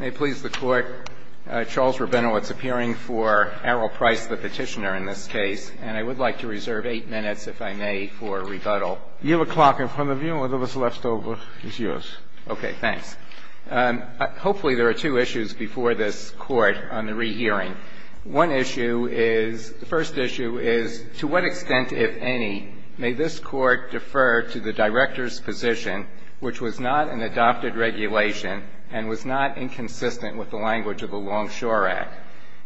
May it please the Court, Charles Rabinowitz appearing for Errol Price, the petitioner in this case. And I would like to reserve eight minutes, if I may, for rebuttal. You have a clock in front of you, and whatever is left over is yours. Okay, thanks. Hopefully there are two issues before this Court on the rehearing. One issue is, the first issue is, to what extent, if any, may this Court defer to the Director's position, which was not an adopted regulation and was not inconsistent with the language of the Longshore Act.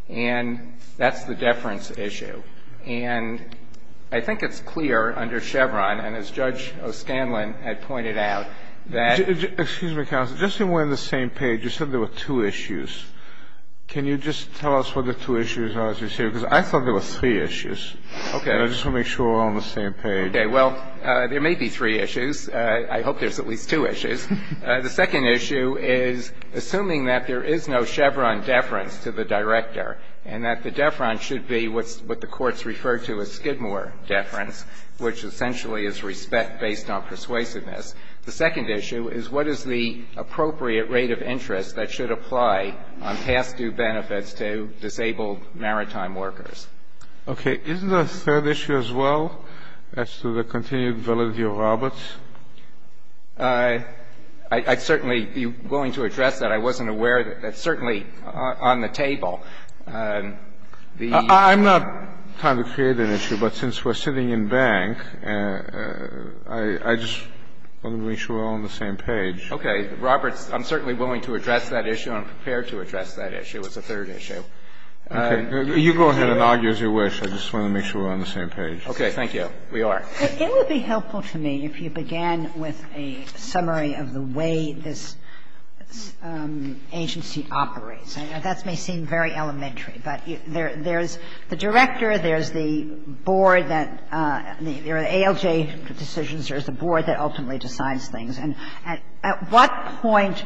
And that's the deference issue. And I think it's clear under Chevron, and as Judge O'Scanlan had pointed out, that — Excuse me, counsel. Just that we're on the same page. You said there were two issues. Can you just tell us what the two issues are, as you say? Because I thought there were three issues. Okay. And I just want to make sure we're all on the same page. Okay. Well, there may be three issues. I hope there's at least two issues. The second issue is, assuming that there is no Chevron deference to the Director and that the deference should be what the courts refer to as Skidmore deference, which essentially is respect based on persuasiveness, the second issue is, what is the appropriate rate of interest that should apply on past due benefits to disabled maritime workers? Okay. Is there a third issue as well as to the continued validity of Roberts? I'd certainly be willing to address that. I wasn't aware. That's certainly on the table. I'm not trying to create an issue, but since we're sitting in bank, I just want to make sure we're all on the same page. Okay. Roberts, I'm certainly willing to address that issue. I'm prepared to address that issue as a third issue. Okay. You go ahead and argue as you wish. I just want to make sure we're on the same page. Okay. Thank you. We are. It would be helpful to me if you began with a summary of the way this agency operates. That may seem very elementary, but there's the Director, there's the board that the ALJ decisions, there's the board that ultimately decides things. And at what point,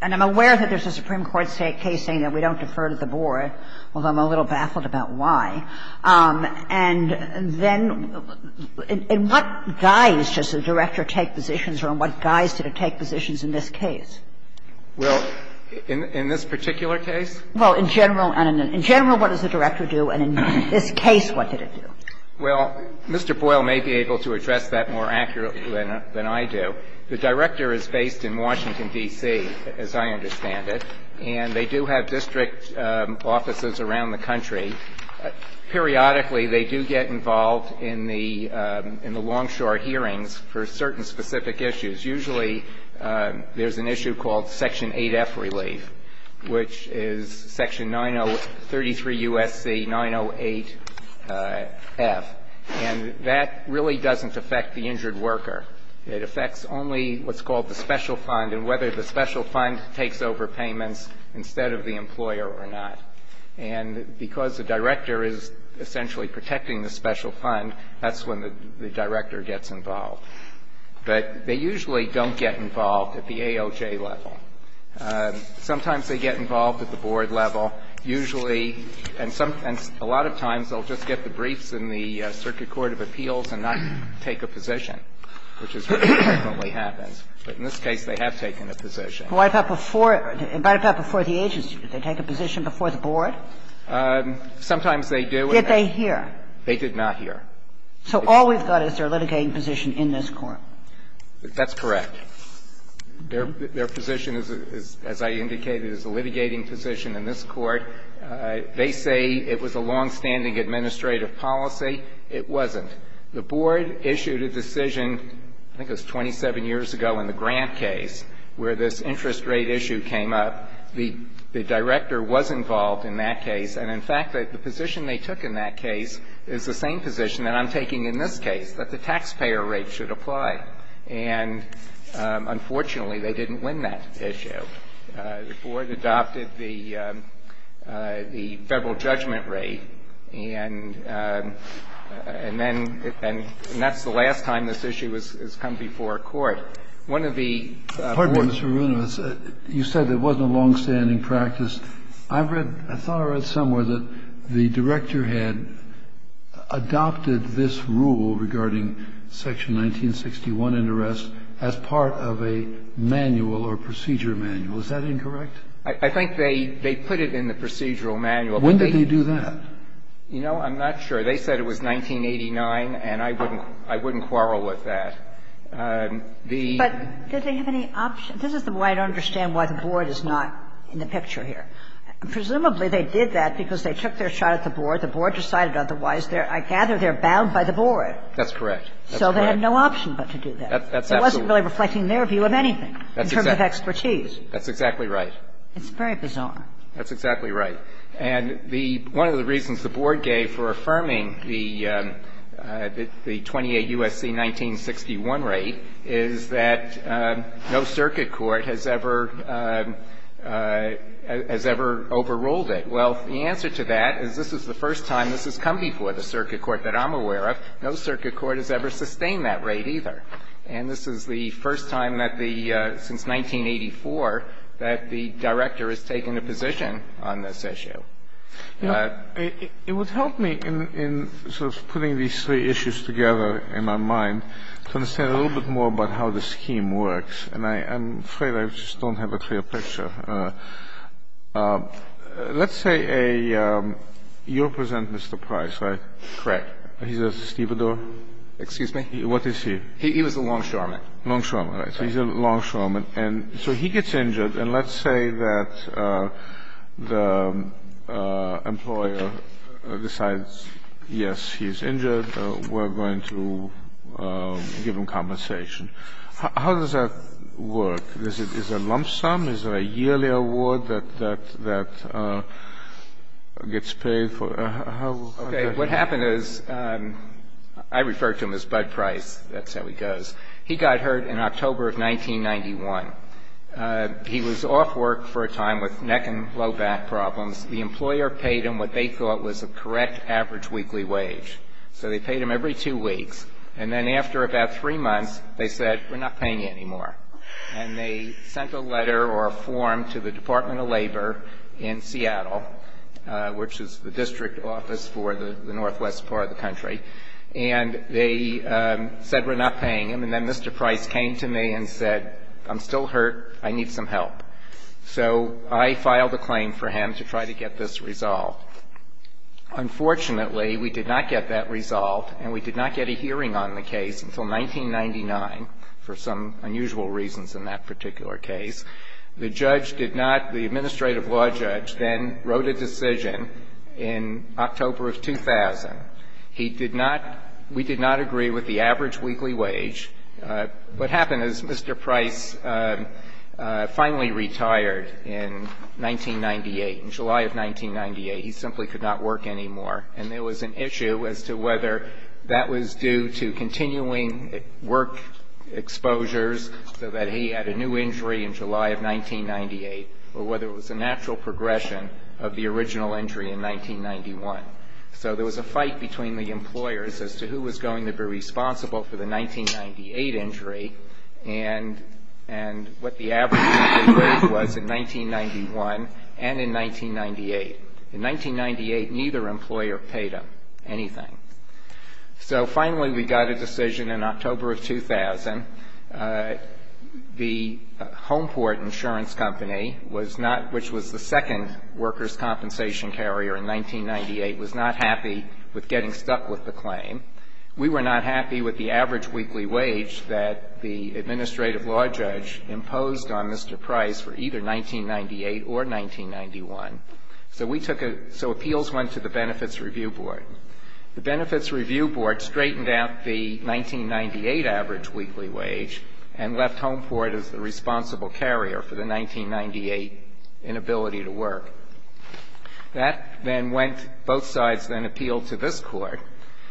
and I'm aware that there's a Supreme Court case saying that we don't defer to the board, although I'm a little baffled about why, and then in what guise does the Director take positions or in what guise did it take positions in this case? Well, in this particular case? Well, in general. In general, what does the Director do, and in this case, what did it do? Well, Mr. Boyle may be able to address that more accurately than I do. The Director is based in Washington, D.C., as I understand it. And they do have district offices around the country. Periodically, they do get involved in the long-short hearings for certain specific issues. Usually there's an issue called Section 8F relief, which is Section 9033 U.S.C. 908F. And that really doesn't affect the injured worker. It affects only what's called the special fund and whether the special fund takes over payments instead of the employer or not. And because the Director is essentially protecting the special fund, that's when the Director gets involved. But they usually don't get involved at the AOJ level. Sometimes they get involved at the board level. Usually, and a lot of times they'll just get the briefs in the Circuit Court of Appeals and not take a position. Which is what frequently happens. But in this case, they have taken a position. But before the agency, did they take a position before the board? Sometimes they do. Did they hear? They did not hear. So all we've got is their litigating position in this Court. That's correct. Their position is, as I indicated, is a litigating position in this Court. They say it was a longstanding administrative policy. It wasn't. The board issued a decision, I think it was 27 years ago in the Grant case, where this interest rate issue came up. The Director was involved in that case. And, in fact, the position they took in that case is the same position that I'm taking in this case, that the taxpayer rate should apply. And, unfortunately, they didn't win that issue. The board adopted the Federal judgment rate. And then that's the last time this issue has come before a court. One of the board members. Kennedy. Pardon me, Mr. Maroonovitz. You said it wasn't a longstanding practice. I've read, I thought I read somewhere that the Director had adopted this rule regarding section 1961 interest as part of a manual or procedure manual. Is that incorrect? I think they put it in the procedural manual. When did they do that? You know, I'm not sure. They said it was 1989, and I wouldn't quarrel with that. The ---- But did they have any option? This is the way I don't understand why the board is not in the picture here. Presumably, they did that because they took their shot at the board. The board decided otherwise. I gather they're bound by the board. That's correct. That's correct. So they had no option but to do that. That's absolutely right. It wasn't really reflecting their view of anything in terms of expertise. That's exactly right. It's very bizarre. That's exactly right. And the ---- one of the reasons the board gave for affirming the 28 U.S.C. 1961 rate is that no circuit court has ever overruled it. Well, the answer to that is this is the first time this has come before the circuit court that I'm aware of. No circuit court has ever sustained that rate either. And this is the first time that the ---- since 1984 that the director has taken a position on this issue. It would help me in sort of putting these three issues together in my mind to understand a little bit more about how the scheme works. And I'm afraid I just don't have a clear picture. Let's say a ---- you represent Mr. Price, right? Correct. He's a stevedore? Excuse me? What is he? He was a longshoreman. Longshoreman, right. So he's a longshoreman. And so he gets injured. And let's say that the employer decides, yes, he's injured. We're going to give him compensation. How does that work? Is it a lump sum? Is it a yearly award that gets paid for? How does that work? What happened is I refer to him as Bud Price. That's how he goes. He got hurt in October of 1991. He was off work for a time with neck and low back problems. The employer paid him what they thought was a correct average weekly wage. So they paid him every two weeks. And then after about three months, they said, we're not paying you anymore. And they sent a letter or a form to the Department of Labor in Seattle, which is the district office for the northwest part of the country. And they said, we're not paying him. And then Mr. Price came to me and said, I'm still hurt. I need some help. So I filed a claim for him to try to get this resolved. Unfortunately, we did not get that resolved, and we did not get a hearing on the case until 1999 for some unusual reasons in that particular case. The judge did not, the administrative law judge, then wrote a decision in October of 2000. He did not, we did not agree with the average weekly wage. What happened is Mr. Price finally retired in 1998, in July of 1998. He simply could not work anymore. And there was an issue as to whether that was due to continuing work exposures, so that he had a new injury in July of 1998, or whether it was a natural progression of the original injury in 1991. So there was a fight between the employers as to who was going to be responsible for the 1998 injury, and what the average weekly wage was in 1991 and in 1998. In 1998, neither employer paid him anything. So finally, we got a decision in October of 2000. The Homeport Insurance Company was not, which was the second workers' compensation carrier in 1998, was not happy with getting stuck with the claim. We were not happy with the average weekly wage that the administrative law judge imposed on Mr. Price for either 1998 or 1991. So we took a, so appeals went to the Benefits Review Board. The Benefits Review Board straightened out the 1998 average weekly wage and left Homeport as the responsible carrier for the 1998 inability to work. That then went, both sides then appealed to this Court,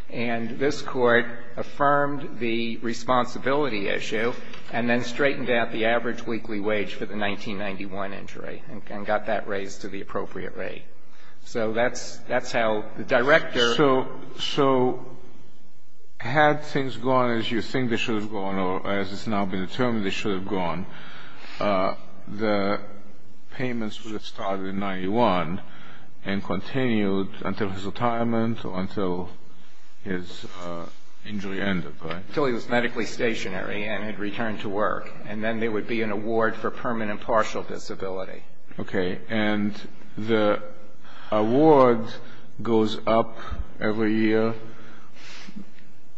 and this Court affirmed the responsibility issue, and then straightened out the average weekly wage for the appropriate rate. So that's how the director. So had things gone as you think they should have gone or as it's now been determined they should have gone, the payments would have started in 1991 and continued until his retirement or until his injury ended, right? Until he was medically stationary and had returned to work. And then there would be an award for permanent partial disability. Okay. And the award goes up every year?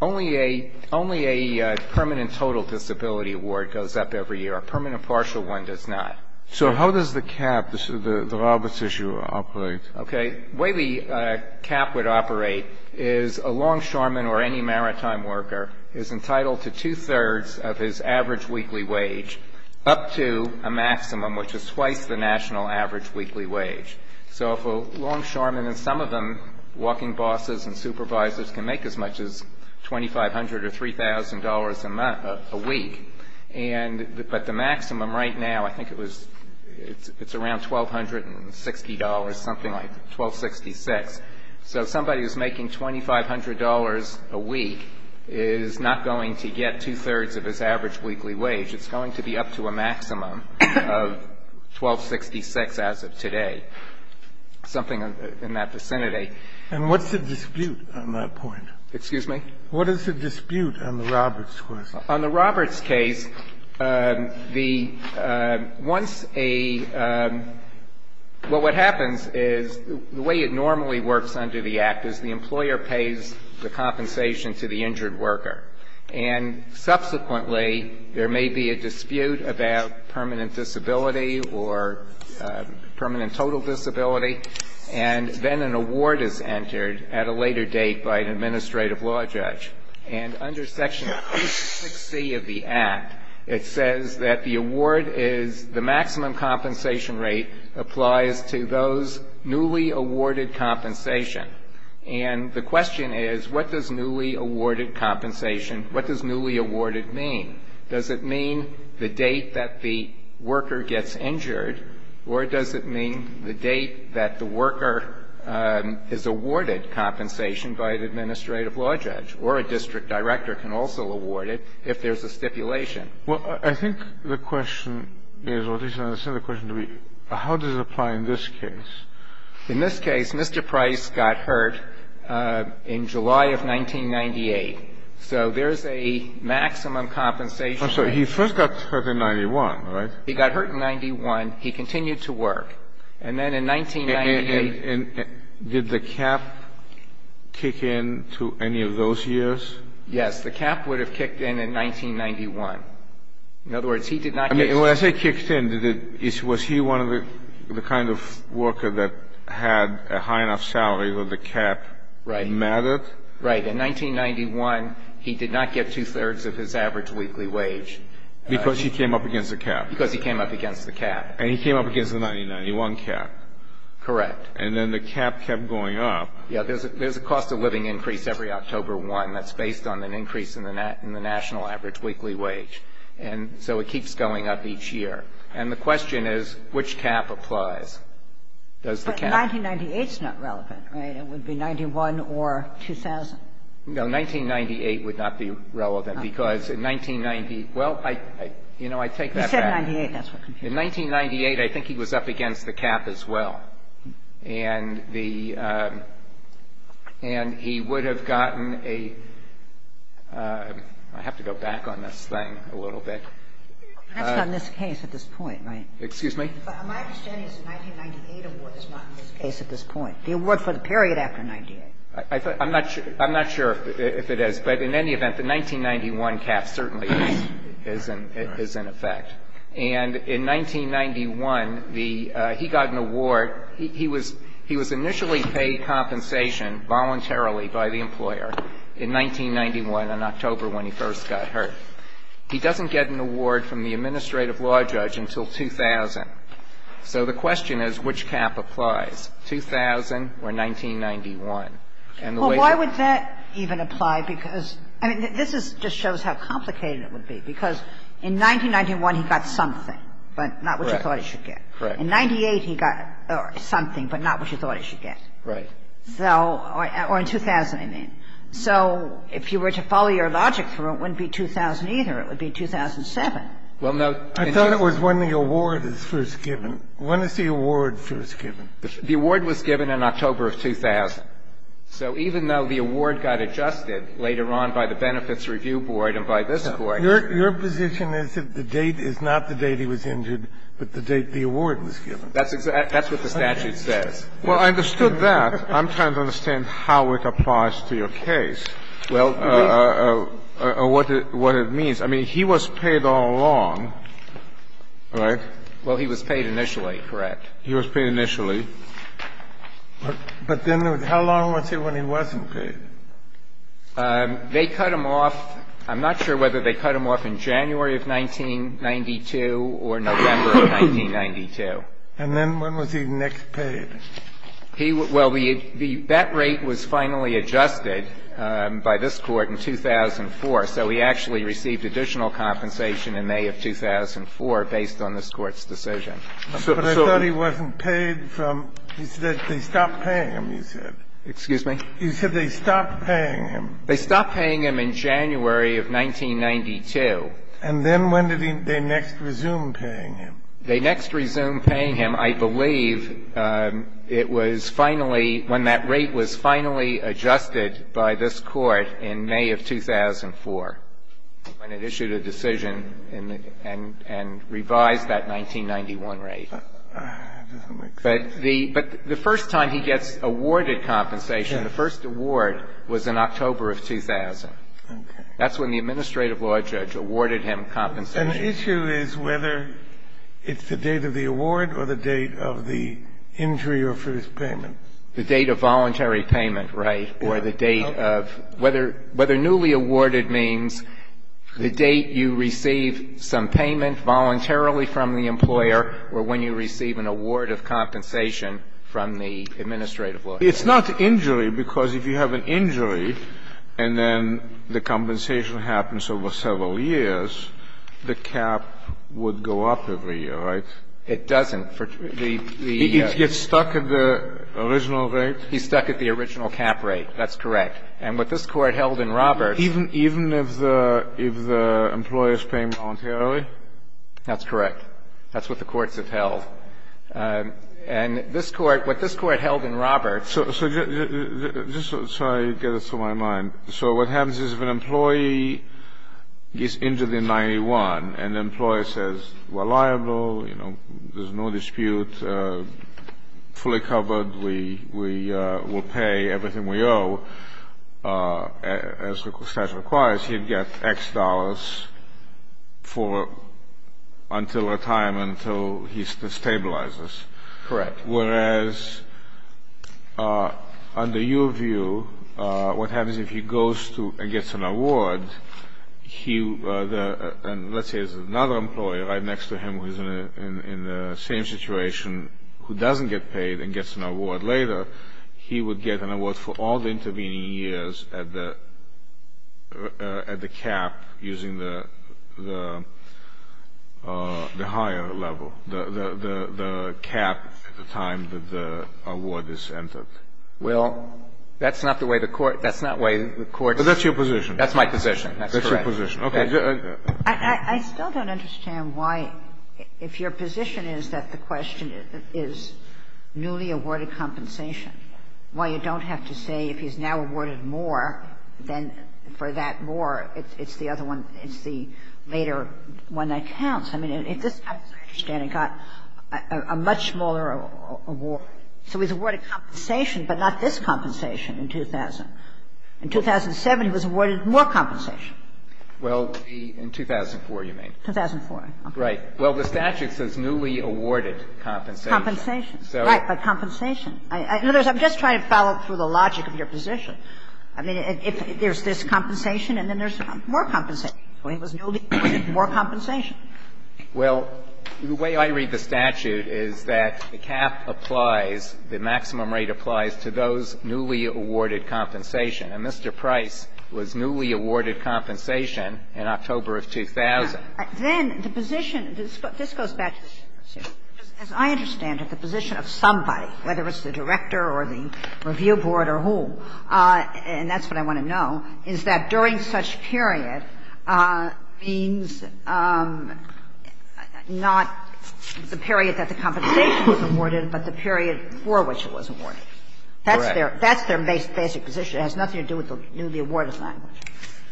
Only a permanent total disability award goes up every year. A permanent partial one does not. So how does the cap, the Roberts issue operate? Okay. The way the cap would operate is a longshoreman or any maritime worker is entitled to two-thirds of his average weekly wage up to a maximum, which is twice the national average weekly wage. So if a longshoreman, and some of them walking bosses and supervisors, can make as much as $2,500 or $3,000 a week, but the maximum right now, I think it was, it's around $1,260, something like 1,266. So somebody who's making $2,500 a week is not going to get two-thirds of his average weekly wage. It's going to be up to a maximum of 1,266 as of today, something in that vicinity. And what's the dispute on that point? Excuse me? What is the dispute on the Roberts case? On the Roberts case, the once a – well, what happens is the way it normally works under the Act is the employer pays the compensation to the injured worker. And subsequently, there may be a dispute about permanent disability or permanent total disability, and then an award is entered at a later date by an administrative law judge. And under Section 60 of the Act, it says that the award is the maximum compensation rate applies to those newly awarded compensation. And the question is, what does newly awarded compensation, what does newly awarded mean? Does it mean the date that the worker gets injured, or does it mean the date that the worker is awarded compensation by an administrative law judge? Or a district director can also award it if there's a stipulation. Well, I think the question is, or at least I understand the question to be, how does it apply in this case? In this case, Mr. Price got hurt in July of 1998. So there's a maximum compensation rate. I'm sorry. He first got hurt in 91, right? He got hurt in 91. He continued to work. And then in 1998 – And did the cap kick in to any of those years? Yes. The cap would have kicked in in 1991. In other words, he did not get – I mean, when I say kicked in, was he one of the kind of worker that had a high enough salary where the cap mattered? Right. In 1991, he did not get two-thirds of his average weekly wage. Because he came up against the cap. Because he came up against the cap. And he came up against the 1991 cap. Correct. And then the cap kept going up. Yes. There's a cost of living increase every October 1 that's based on an increase in the national average weekly wage. And so it keeps going up each year. And the question is, which cap applies? Does the cap – But 1998's not relevant, right? It would be 91 or 2000. No, 1998 would not be relevant. Because in 1990 – well, I – you know, I take that back. You said 98. That's what confused me. In 1998, I think he was up against the cap as well. And the – and he would have gotten a – I have to go back on this thing a little bit. That's not in this case at this point, right? Excuse me? My understanding is the 1998 award is not in this case at this point. The award for the period after 98. I'm not sure if it is. But in any event, the 1991 cap certainly is in effect. Right. And in 1991, the – he got an award. He was – he was initially paid compensation voluntarily by the employer in 1991, in October, when he first got hurt. He doesn't get an award from the administrative law judge until 2000. So the question is, which cap applies, 2000 or 1991? And the way – Well, why would that even apply? Because – I mean, this is – just shows how complicated it would be. Because in 1991, he got something, but not what you thought he should get. Correct. In 98, he got something, but not what you thought he should get. Right. So – or in 2000, I mean. So if you were to follow your logic through, it wouldn't be 2000 either. It would be 2007. Well, no – I thought it was when the award was first given. When is the award first given? The award was given in October of 2000. So even though the award got adjusted later on by the Benefits Review Board and by this Court – Your position is that the date is not the date he was injured, but the date the award was given. That's what the statute says. Well, I understood that. I'm trying to understand how it applies to your case. Well, we – Or what it means. I mean, he was paid all along, right? Well, he was paid initially, correct. He was paid initially. But then how long was he when he wasn't paid? They cut him off. I'm not sure whether they cut him off in January of 1992 or November of 1992. And then when was he next paid? He – well, the – that rate was finally adjusted by this Court in 2004. So he actually received additional compensation in May of 2004 based on this Court's decision. But I thought he wasn't paid from – he said they stopped paying him, you said. Excuse me? You said they stopped paying him. They stopped paying him in January of 1992. And then when did they next resume paying him? They next resumed paying him, I believe, it was finally – when that rate was finally adjusted by this Court in May of 2004, when it issued a decision and revised that 1991 rate. That doesn't make sense. But the first time he gets awarded compensation, the first award was in October of 2000. That's when the administrative law judge awarded him compensation. An issue is whether it's the date of the award or the date of the injury or first payment. The date of voluntary payment, right, or the date of – whether newly awarded means the date you receive some payment voluntarily from the employer or when you receive an award of compensation from the administrative law judge. It's not injury, because if you have an injury and then the compensation happens over several years, the cap would go up every year, right? It doesn't. It gets stuck at the original rate? He's stuck at the original cap rate. That's correct. And what this Court held in Roberts – Even if the employer is paying voluntarily? That's correct. That's what the courts have held. And this Court – what this Court held in Roberts – So just so I get this to my mind. So what happens is if an employee is injured in 91 and the employer says, we're liable, you know, there's no dispute, fully covered, we will pay everything we owe, as the statute requires, he'd get X dollars for – until at some point in time, until he stabilizes. Correct. Whereas under your view, what happens if he goes and gets an award, and let's say there's another employer right next to him who's in the same situation who doesn't get paid and gets an award later, he would get an award for all the higher level, the cap at the time that the award is entered? Well, that's not the way the court – that's not the way the courts – But that's your position. That's my position. That's correct. That's your position. Okay. I still don't understand why, if your position is that the question is newly awarded compensation, why you don't have to say if he's now awarded more, then for that more, it's the other one, it's the later one that counts. I mean, if this, as I understand it, got a much smaller award, so he's awarded compensation, but not this compensation in 2000. In 2007, he was awarded more compensation. Well, in 2004, you mean. 2004. Right. Well, the statute says newly awarded compensation. Compensation. Right, but compensation. In other words, I'm just trying to follow through the logic of your position. I mean, if there's this compensation and then there's more compensation, so he was newly awarded more compensation. Well, the way I read the statute is that the cap applies, the maximum rate applies to those newly awarded compensation. And Mr. Price was newly awarded compensation in October of 2000. Then the position – this goes back to the position, as I understand it, the position of somebody, whether it's the director or the review board or who, and that's what I want to know, is that during such period means not the period that the compensation was awarded, but the period for which it was awarded. Correct. That's their basic position. It has nothing to do with the newly awarded language.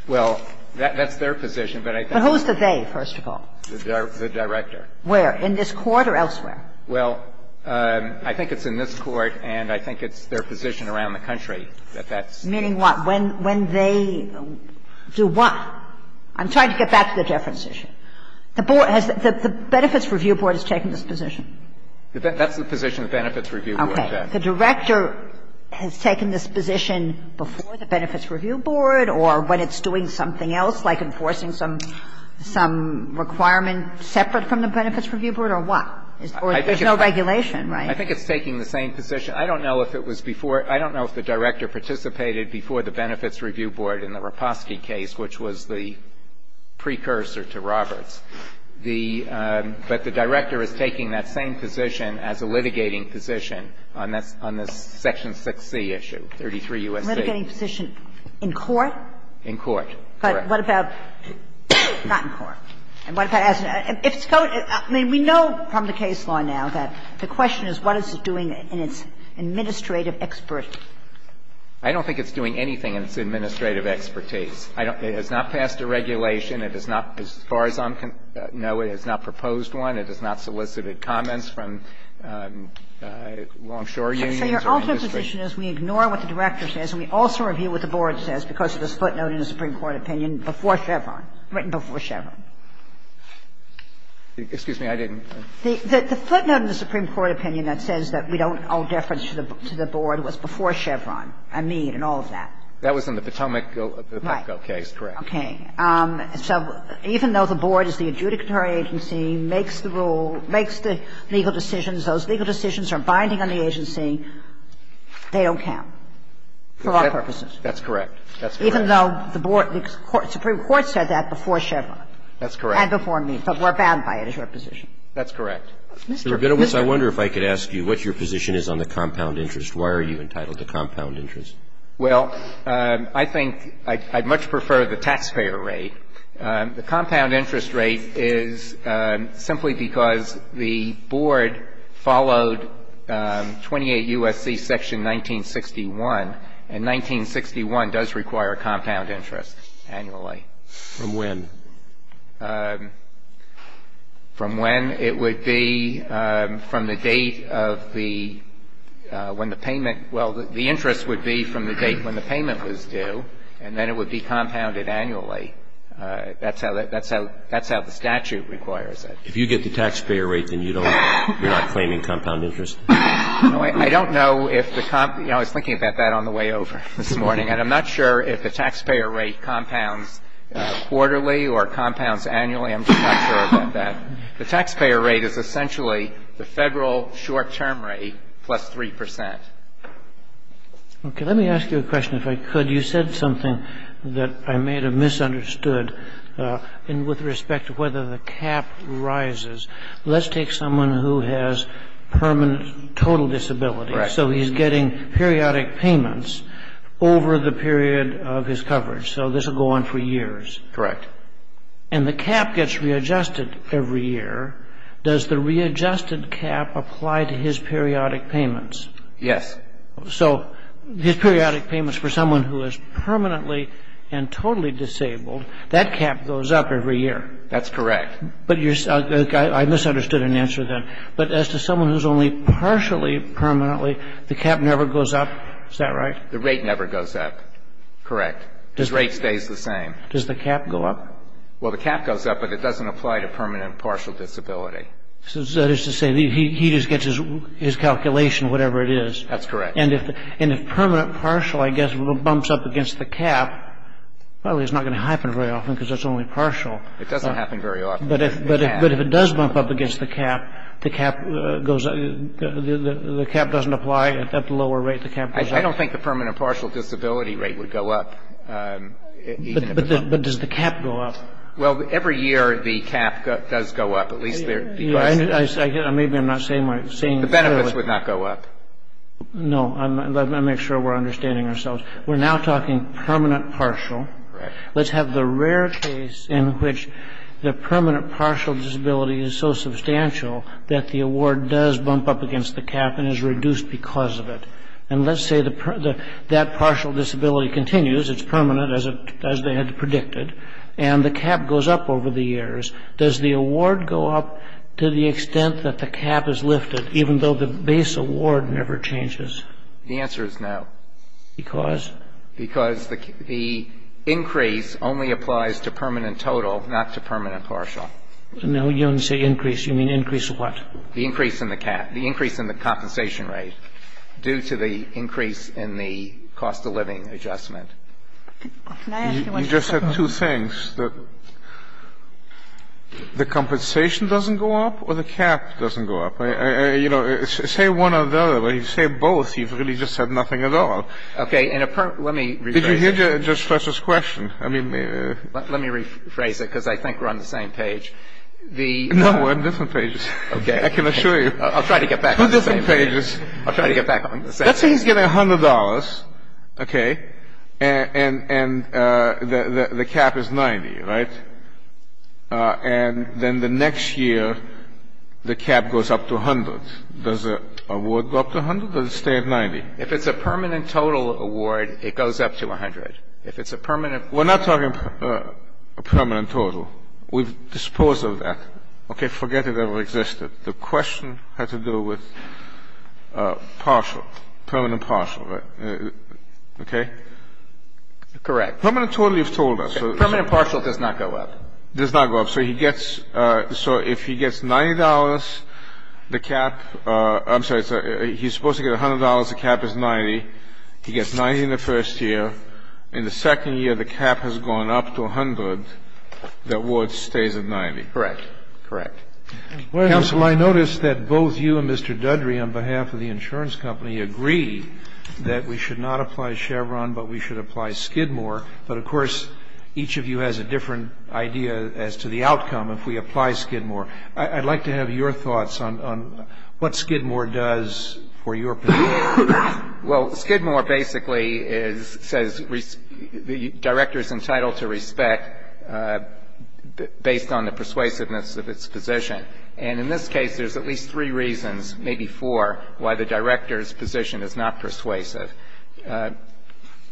Well, that's their position, but I think – But who's the they, first of all? The director. Where? In this Court or elsewhere? Well, I think it's in this Court, and I think it's their position around the country that that's – Meaning what? When they do what? I'm trying to get back to the deference issue. The board has – the Benefits Review Board has taken this position. That's the position the Benefits Review Board has. Okay. The director has taken this position before the Benefits Review Board or when it's doing something else, like enforcing some requirement separate from the Benefits Review Board, or what? Or there's no regulation, right? I think it's taking the same position. I don't know if it was before – I don't know if the director participated before the Benefits Review Board in the Raposki case, which was the precursor to Roberts. The – but the director is taking that same position as a litigating position on this Section 6C issue, 33 U.S.C. Litigating position in court? In court, correct. But what about not in court? And what about – if it's going – I mean, we know from the case law now that the question is what is it doing in its administrative expertise? I don't think it's doing anything in its administrative expertise. I don't – it has not passed a regulation. It has not, as far as I know, it has not proposed one. It has not solicited comments from longshore unions or industry. So your ultimate position is we ignore what the director says and we also review what the board says because of this footnote in the Supreme Court opinion before Chevron, written before Chevron. Excuse me. I didn't – The footnote in the Supreme Court opinion that says that we don't owe deference to the board was before Chevron and Meade and all of that. That was in the Potomac case, correct. Right. Okay. So even though the board is the adjudicatory agency, makes the rule – makes the legal decisions, those legal decisions are binding on the agency, they don't count for all purposes. That's correct. That's correct. Even though the board – the Supreme Court said that before Chevron. That's correct. And before Meade. But we're bound by it as your position. That's correct. Mr. Goodowitz, I wonder if I could ask you what your position is on the compound interest. Why are you entitled to compound interest? Well, I think I'd much prefer the taxpayer rate. The compound interest rate is simply because the board followed 28 U.S.C. section 1961, and 1961 does require compound interest annually. From when? From when it would be from the date of the – when the payment – well, the interest would be from the date when the payment was due, and then it would be compounded annually. That's how the statute requires it. If you get the taxpayer rate, then you don't – you're not claiming compound interest? No, I don't know if the – I was thinking about that on the way over this morning. And I'm not sure if the taxpayer rate compounds quarterly or compounds annually. I'm just not sure about that. The taxpayer rate is essentially the Federal short-term rate plus 3 percent. Okay. Let me ask you a question, if I could. You said something that I may have misunderstood with respect to whether the cap rises. Let's take someone who has permanent total disability. Correct. So he's getting periodic payments over the period of his coverage. So this will go on for years. Correct. And the cap gets readjusted every year. Does the readjusted cap apply to his periodic payments? Yes. So his periodic payments for someone who is permanently and totally disabled, that cap goes up every year. That's correct. But you're – I misunderstood an answer then. But as to someone who's only partially permanently, the cap never goes up. Is that right? The rate never goes up. Correct. His rate stays the same. Does the cap go up? Well, the cap goes up, but it doesn't apply to permanent partial disability. So that is to say he just gets his calculation, whatever it is. That's correct. And if permanent partial, I guess, bumps up against the cap, probably it's not going to happen very often because it's only partial. It doesn't happen very often, but it can. The cap goes up. The cap doesn't apply. At the lower rate, the cap goes up. I don't think the permanent partial disability rate would go up. But does the cap go up? Well, every year the cap does go up, at least there – Maybe I'm not saying my – The benefits would not go up. No. Let me make sure we're understanding ourselves. We're now talking permanent partial. Correct. Let's have the rare case in which the permanent partial disability is so substantial that the award does bump up against the cap and is reduced because of it. And let's say that partial disability continues. It's permanent, as they had predicted. And the cap goes up over the years. Does the award go up to the extent that the cap is lifted, even though the base award never changes? The answer is no. Because? Because the increase only applies to permanent total, not to permanent partial. No. You don't say increase. You mean increase what? The increase in the cap. The increase in the compensation rate due to the increase in the cost of living adjustment. Can I ask you one more question? You just said two things, that the compensation doesn't go up or the cap doesn't go up. You know, say one or the other. But if you say both, you've really just said nothing at all. Okay. And let me rephrase it. Did you hear Judge Fletcher's question? I mean. Let me rephrase it, because I think we're on the same page. No, we're on different pages. Okay. I can assure you. I'll try to get back on the same page. We're on different pages. I'll try to get back on the same page. Let's say he's getting $100, okay, and the cap is 90, right? And then the next year, the cap goes up to 100. Does the award go up to 100, or does it stay at 90? If it's a permanent total award, it goes up to 100. If it's a permanent. We're not talking a permanent total. We've disposed of that. Okay? Forget it ever existed. The question had to do with partial, permanent partial, right? Okay? Correct. Permanent total, you've told us. Permanent partial does not go up. Does not go up. So he gets so if he gets $90, the cap, I'm sorry. He's supposed to get $100. The cap is 90. He gets 90 in the first year. In the second year, the cap has gone up to 100. The award stays at 90. Correct. Correct. Counsel, I notice that both you and Mr. Dudry on behalf of the insurance company agree that we should not apply Chevron, but we should apply Skidmore. But of course, each of you has a different idea as to the outcome if we apply Skidmore. I'd like to have your thoughts on what Skidmore does for your position. Well, Skidmore basically says the director is entitled to respect based on the persuasiveness of its position. And in this case, there's at least three reasons, maybe four, why the director's position is not persuasive.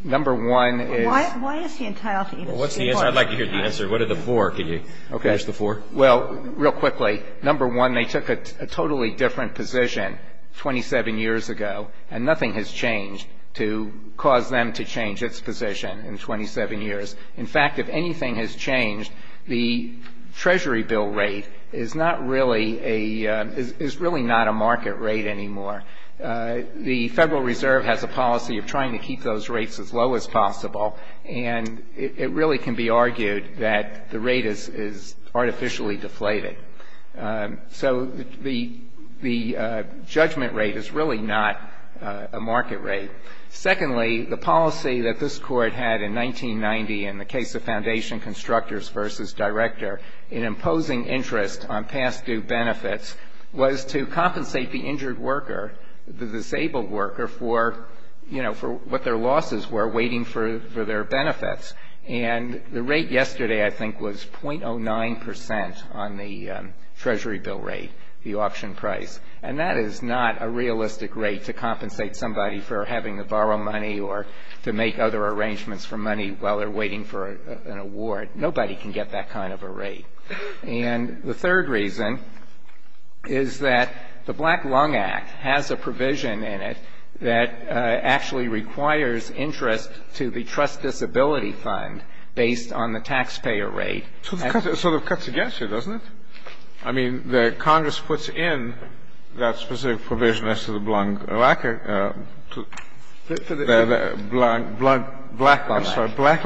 Number one is why is he entitled to even Skidmore? Well, what's the answer? I'd like to hear the answer. What are the four? Can you list the four? Well, real quickly, number one, they took a totally different position 27 years ago, and nothing has changed to cause them to change its position in 27 years. In fact, if anything has changed, the Treasury bill rate is not really a – is really not a market rate anymore. The Federal Reserve has a policy of trying to keep those rates as low as possible, and it really can be argued that the rate is artificially deflated. So the judgment rate is really not a market rate. Secondly, the policy that this Court had in 1990 in the case of Foundation Constructors v. Director in imposing interest on past due benefits was to compensate the injured worker, the disabled worker, for, you know, for what their losses were waiting for their benefits. And the rate yesterday, I think, was 0.09 percent on the Treasury bill rate, the option price. And that is not a realistic rate to compensate somebody for having to borrow money or to make other arrangements for money while they're waiting for an award. Nobody can get that kind of a rate. And the third reason is that the Black Lung Act has a provision in it that actually requires interest to the Trust Disability Fund based on the taxpayer rate. Kennedy. So it sort of cuts against you, doesn't it? I mean, the Congress puts in that specific provision as to the Black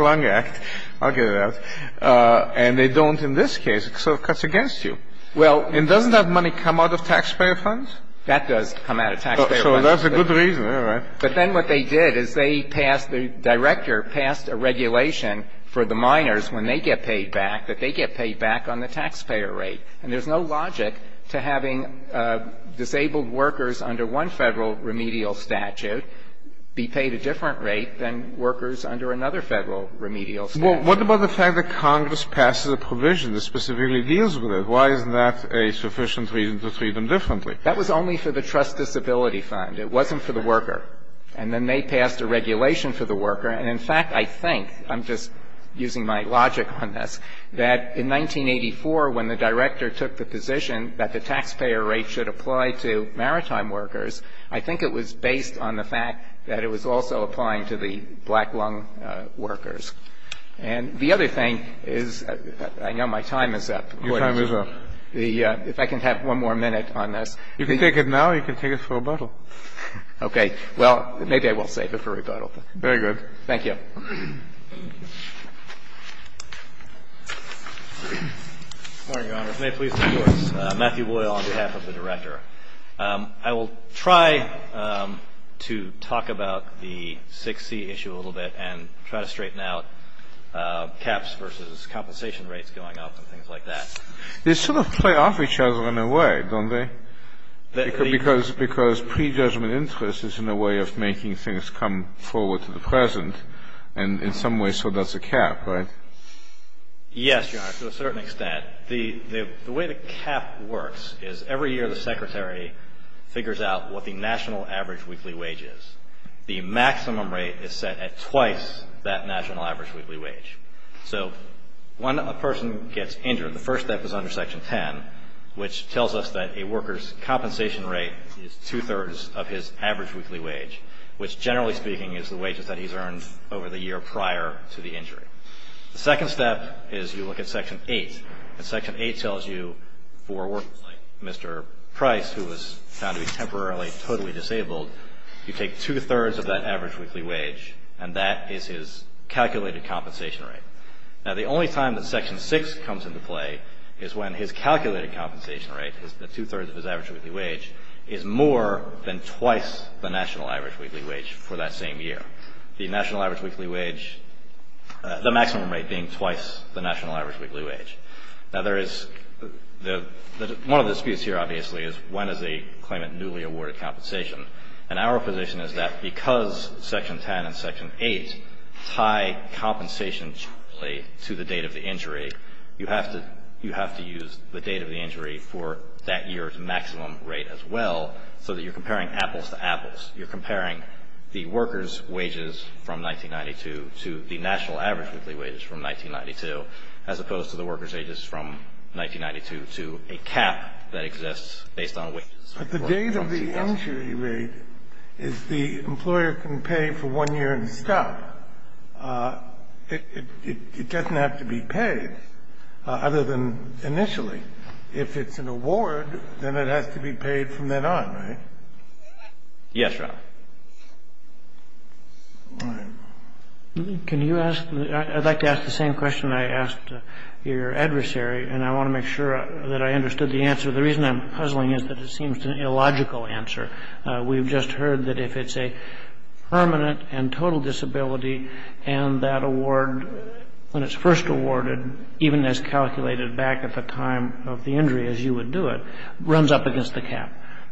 Lung Act. I'll get it out. And they don't in this case. It sort of cuts against you. And doesn't that money come out of taxpayer funds? That does come out of taxpayer funds. So that's a good reason, all right. But then what they did is they passed the Director passed a regulation for the minors when they get paid back that they get paid back on the taxpayer rate. And there's no logic to having disabled workers under one Federal remedial statute be paid a different rate than workers under another Federal remedial statute. Well, what about the fact that Congress passes a provision that specifically deals with it? Why isn't that a sufficient reason to treat them differently? That was only for the Trust Disability Fund. It wasn't for the worker. And then they passed a regulation for the worker. And in fact, I think, I'm just using my logic on this, that in 1984, when the Director took the position that the taxpayer rate should apply to maritime workers, I think it was based on the fact that it was also applying to the black lung workers. And the other thing is, I know my time is up. Your time is up. If I can have one more minute on this. You can take it now or you can take it for rebuttal. Okay. Well, maybe I will save it for rebuttal. Very good. Thank you. Good morning, Your Honors. May it please the Court. Matthew Boyle on behalf of the Director. I will try to talk about the 6C issue a little bit and try to straighten out caps versus compensation rates going up and things like that. They sort of play off each other in a way, don't they? Because prejudgment interest is in a way of making things come forward to the present. And in some ways, so does a cap, right? Yes, Your Honor, to a certain extent. The way the cap works is every year the Secretary figures out what the national average weekly wage is. The maximum rate is set at twice that national average weekly wage. So when a person gets injured, the first step is under Section 10, which tells us that a worker's compensation rate is two-thirds of his average weekly wage, which generally speaking is the wages that he's earned over the year prior to the injury. The second step is you look at Section 8. And Section 8 tells you for a worker like Mr. Price, who was found to be temporarily totally disabled, you take two-thirds of that average weekly wage, and that is his calculated compensation rate. Now, the only time that Section 6 comes into play is when his calculated compensation rate, the two-thirds of his average weekly wage, is more than twice the national average weekly wage for that same year. The national average weekly wage, the maximum rate being twice the national average weekly wage. Now, there is the one of the disputes here, obviously, is when is the claimant newly awarded compensation. And our position is that because Section 10 and Section 8 tie compensation to the date of the injury, you have to use the date of the injury for that year's maximum rate as well, so that you're comparing apples to apples. You're comparing the workers' wages from 1992 to the national average weekly wage from 1992, as opposed to the workers' wages from 1992 to a cap that exists based on wages. The date of the injury rate is the employer can pay for one year and stop. It doesn't have to be paid other than initially. If it's an award, then it has to be paid from then on, right? Yes, Rob. Can you ask? I'd like to ask the same question I asked your adversary, and I want to make sure that I understood the answer. The reason I'm puzzling is that it seems an illogical answer. We've just heard that if it's a permanent and total disability and that award, when it's first awarded, even as calculated back at the time of the injury as you would do it, runs up against the cap.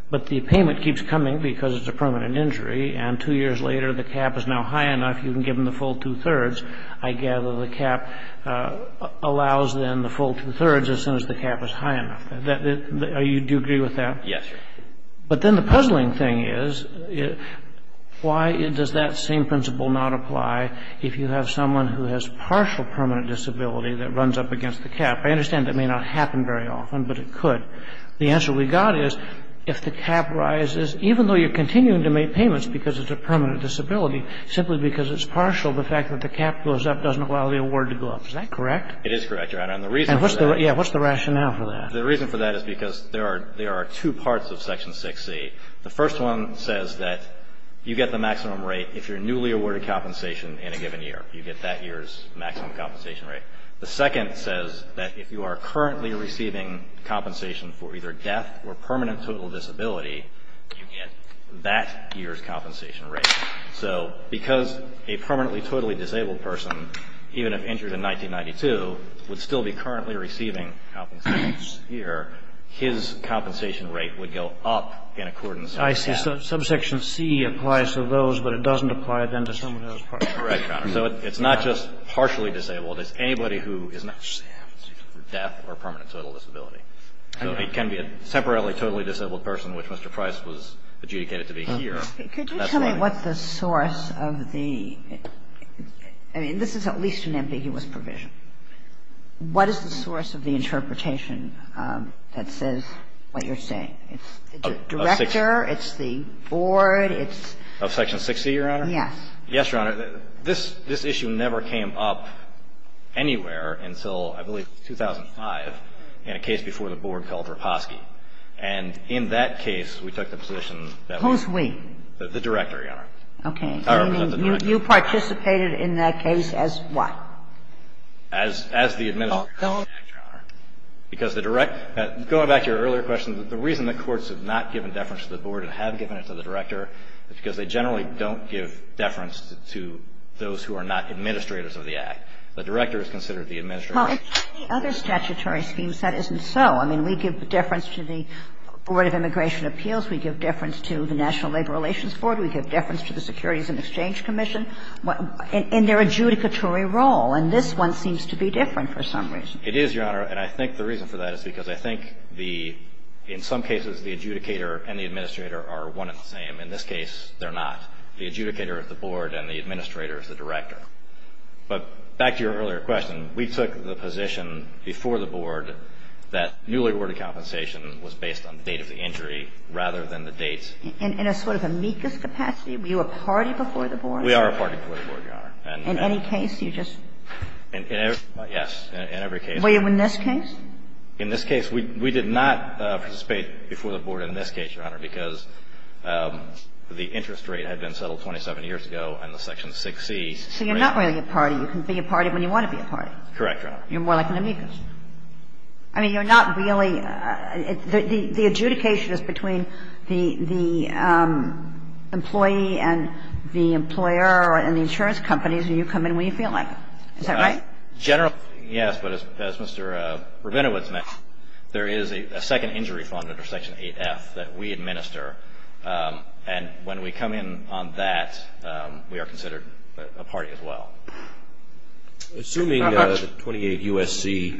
But the payment keeps coming because it's a permanent injury, and two years later the cap is now high enough you can give them the full two-thirds. I gather the cap allows then the full two-thirds as soon as the cap is high enough. Do you agree with that? Yes, sir. But then the puzzling thing is, why does that same principle not apply if you have someone who has partial permanent disability that runs up against the cap? I understand that may not happen very often, but it could. The answer we got is, if the cap rises, even though you're continuing to make payments because it's a permanent disability, simply because it's partial, the fact that the cap goes up doesn't allow the award to go up. Is that correct? It is correct, Your Honor. And the reason for that. And what's the rationale for that? The reason for that is because there are two parts of Section 6C. The first one says that you get the maximum rate if you're newly awarded compensation in a given year. You get that year's maximum compensation rate. The second says that if you are currently receiving compensation for either death or permanent total disability, you get that year's compensation rate. So because a permanently totally disabled person, even if injured in 1992, would still be currently receiving compensation this year, his compensation rate would go up in accordance with that. I see. So Subsection C applies to those, but it doesn't apply then to someone who has partial disability. Correct, Your Honor. So it's not just partially disabled. It's anybody who does not have death or permanent total disability. So it can be a temporarily totally disabled person, which Mr. Price was adjudicated to be here. Could you tell me what the source of the – I mean, this is at least an ambiguous provision. What is the source of the interpretation that says what you're saying? It's the director, it's the board, it's – Of Section 6C, Your Honor? Yes. Yes, Your Honor. This issue never came up anywhere until, I believe, 2005 in a case before the board called Raposki. And in that case, we took the position that we were – Who's we? The director, Your Honor. Okay. I mean, you participated in that case as what? As the administrator called the director, Your Honor. Because the director – going back to your earlier question, the reason the courts have not given deference to the board and have given it to the director is because they generally don't give deference to those who are not administrators of the act. The director is considered the administrator. Well, in other statutory schemes, that isn't so. I mean, we give deference to the Board of Immigration Appeals, we give deference to the National Labor Relations Board, we give deference to the Securities and Exchange Commission in their adjudicatory role. And this one seems to be different for some reason. It is, Your Honor. And I think the reason for that is because I think the – in some cases, the adjudicator and the administrator are one and the same. In this case, they're not. The adjudicator is the board and the administrator is the director. But back to your earlier question, we took the position before the board that newly awarded compensation was based on the date of the injury rather than the dates. In a sort of amicus capacity? Were you a party before the board? We are a party before the board, Your Honor. And in any case, you just – Yes. In every case. Were you in this case? In this case, we did not participate before the board in this case, Your Honor, because the interest rate had been settled 27 years ago under Section 6C. So you're not really a party. You can be a party when you want to be a party. Correct, Your Honor. You're more like an amicus. I mean, you're not really – the adjudication is between the employee and the employer and the insurance companies, and you come in when you feel like it. Is that right? Generally, yes. But as Mr. Rabinowitz mentioned, there is a second injury fund under Section 8F that we administer, and when we come in on that, we are considered a party as well. Assuming the 28 U.S.C.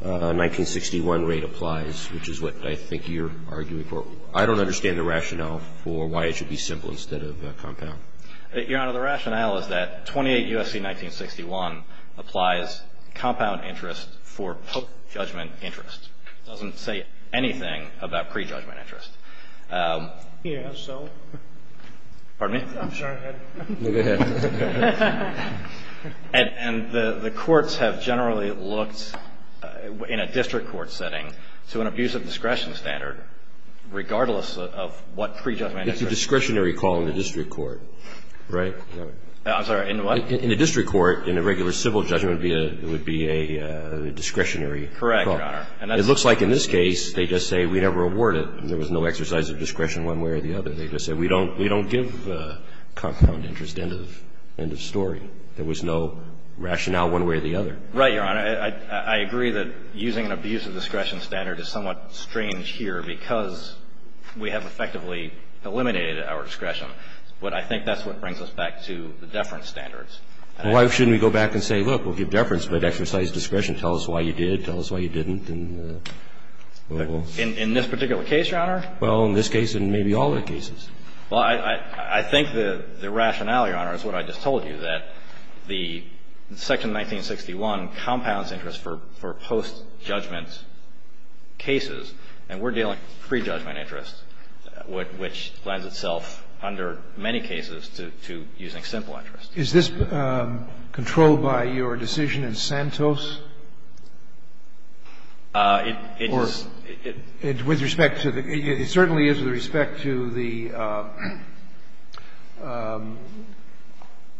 1961 rate applies, which is what I think you're arguing for, I don't understand the rationale for why it should be simple instead of compound. Your Honor, the rationale is that 28 U.S.C. 1961 applies compound interest for pre-judgment interest. Yes, so? Pardon me? I'm sorry. Go ahead. And the courts have generally looked in a district court setting to an abuse of discretion standard, regardless of what pre-judgment interest. It's a discretionary call in the district court, right? I'm sorry. In what? call. Correct, Your Honor. It looks like in this case, they just say we never award it, and there was no exercise of discretion one way or the other. They just said we don't give compound interest, end of story. There was no rationale one way or the other. Right, Your Honor. I agree that using an abuse of discretion standard is somewhat strange here because we have effectively eliminated our discretion. But I think that's what brings us back to the deference standards. Why shouldn't we go back and say, look, we'll give deference, but exercise discretion. Tell us why you did. Tell us why you didn't. In this particular case, Your Honor? Well, in this case and maybe all other cases. Well, I think the rationale, Your Honor, is what I just told you, that the section 1961 compounds interest for post-judgment cases, and we're dealing with pre-judgment interest, which lends itself under many cases to using simple interest. Is this controlled by your decision in Santos? It is. It certainly is with respect to the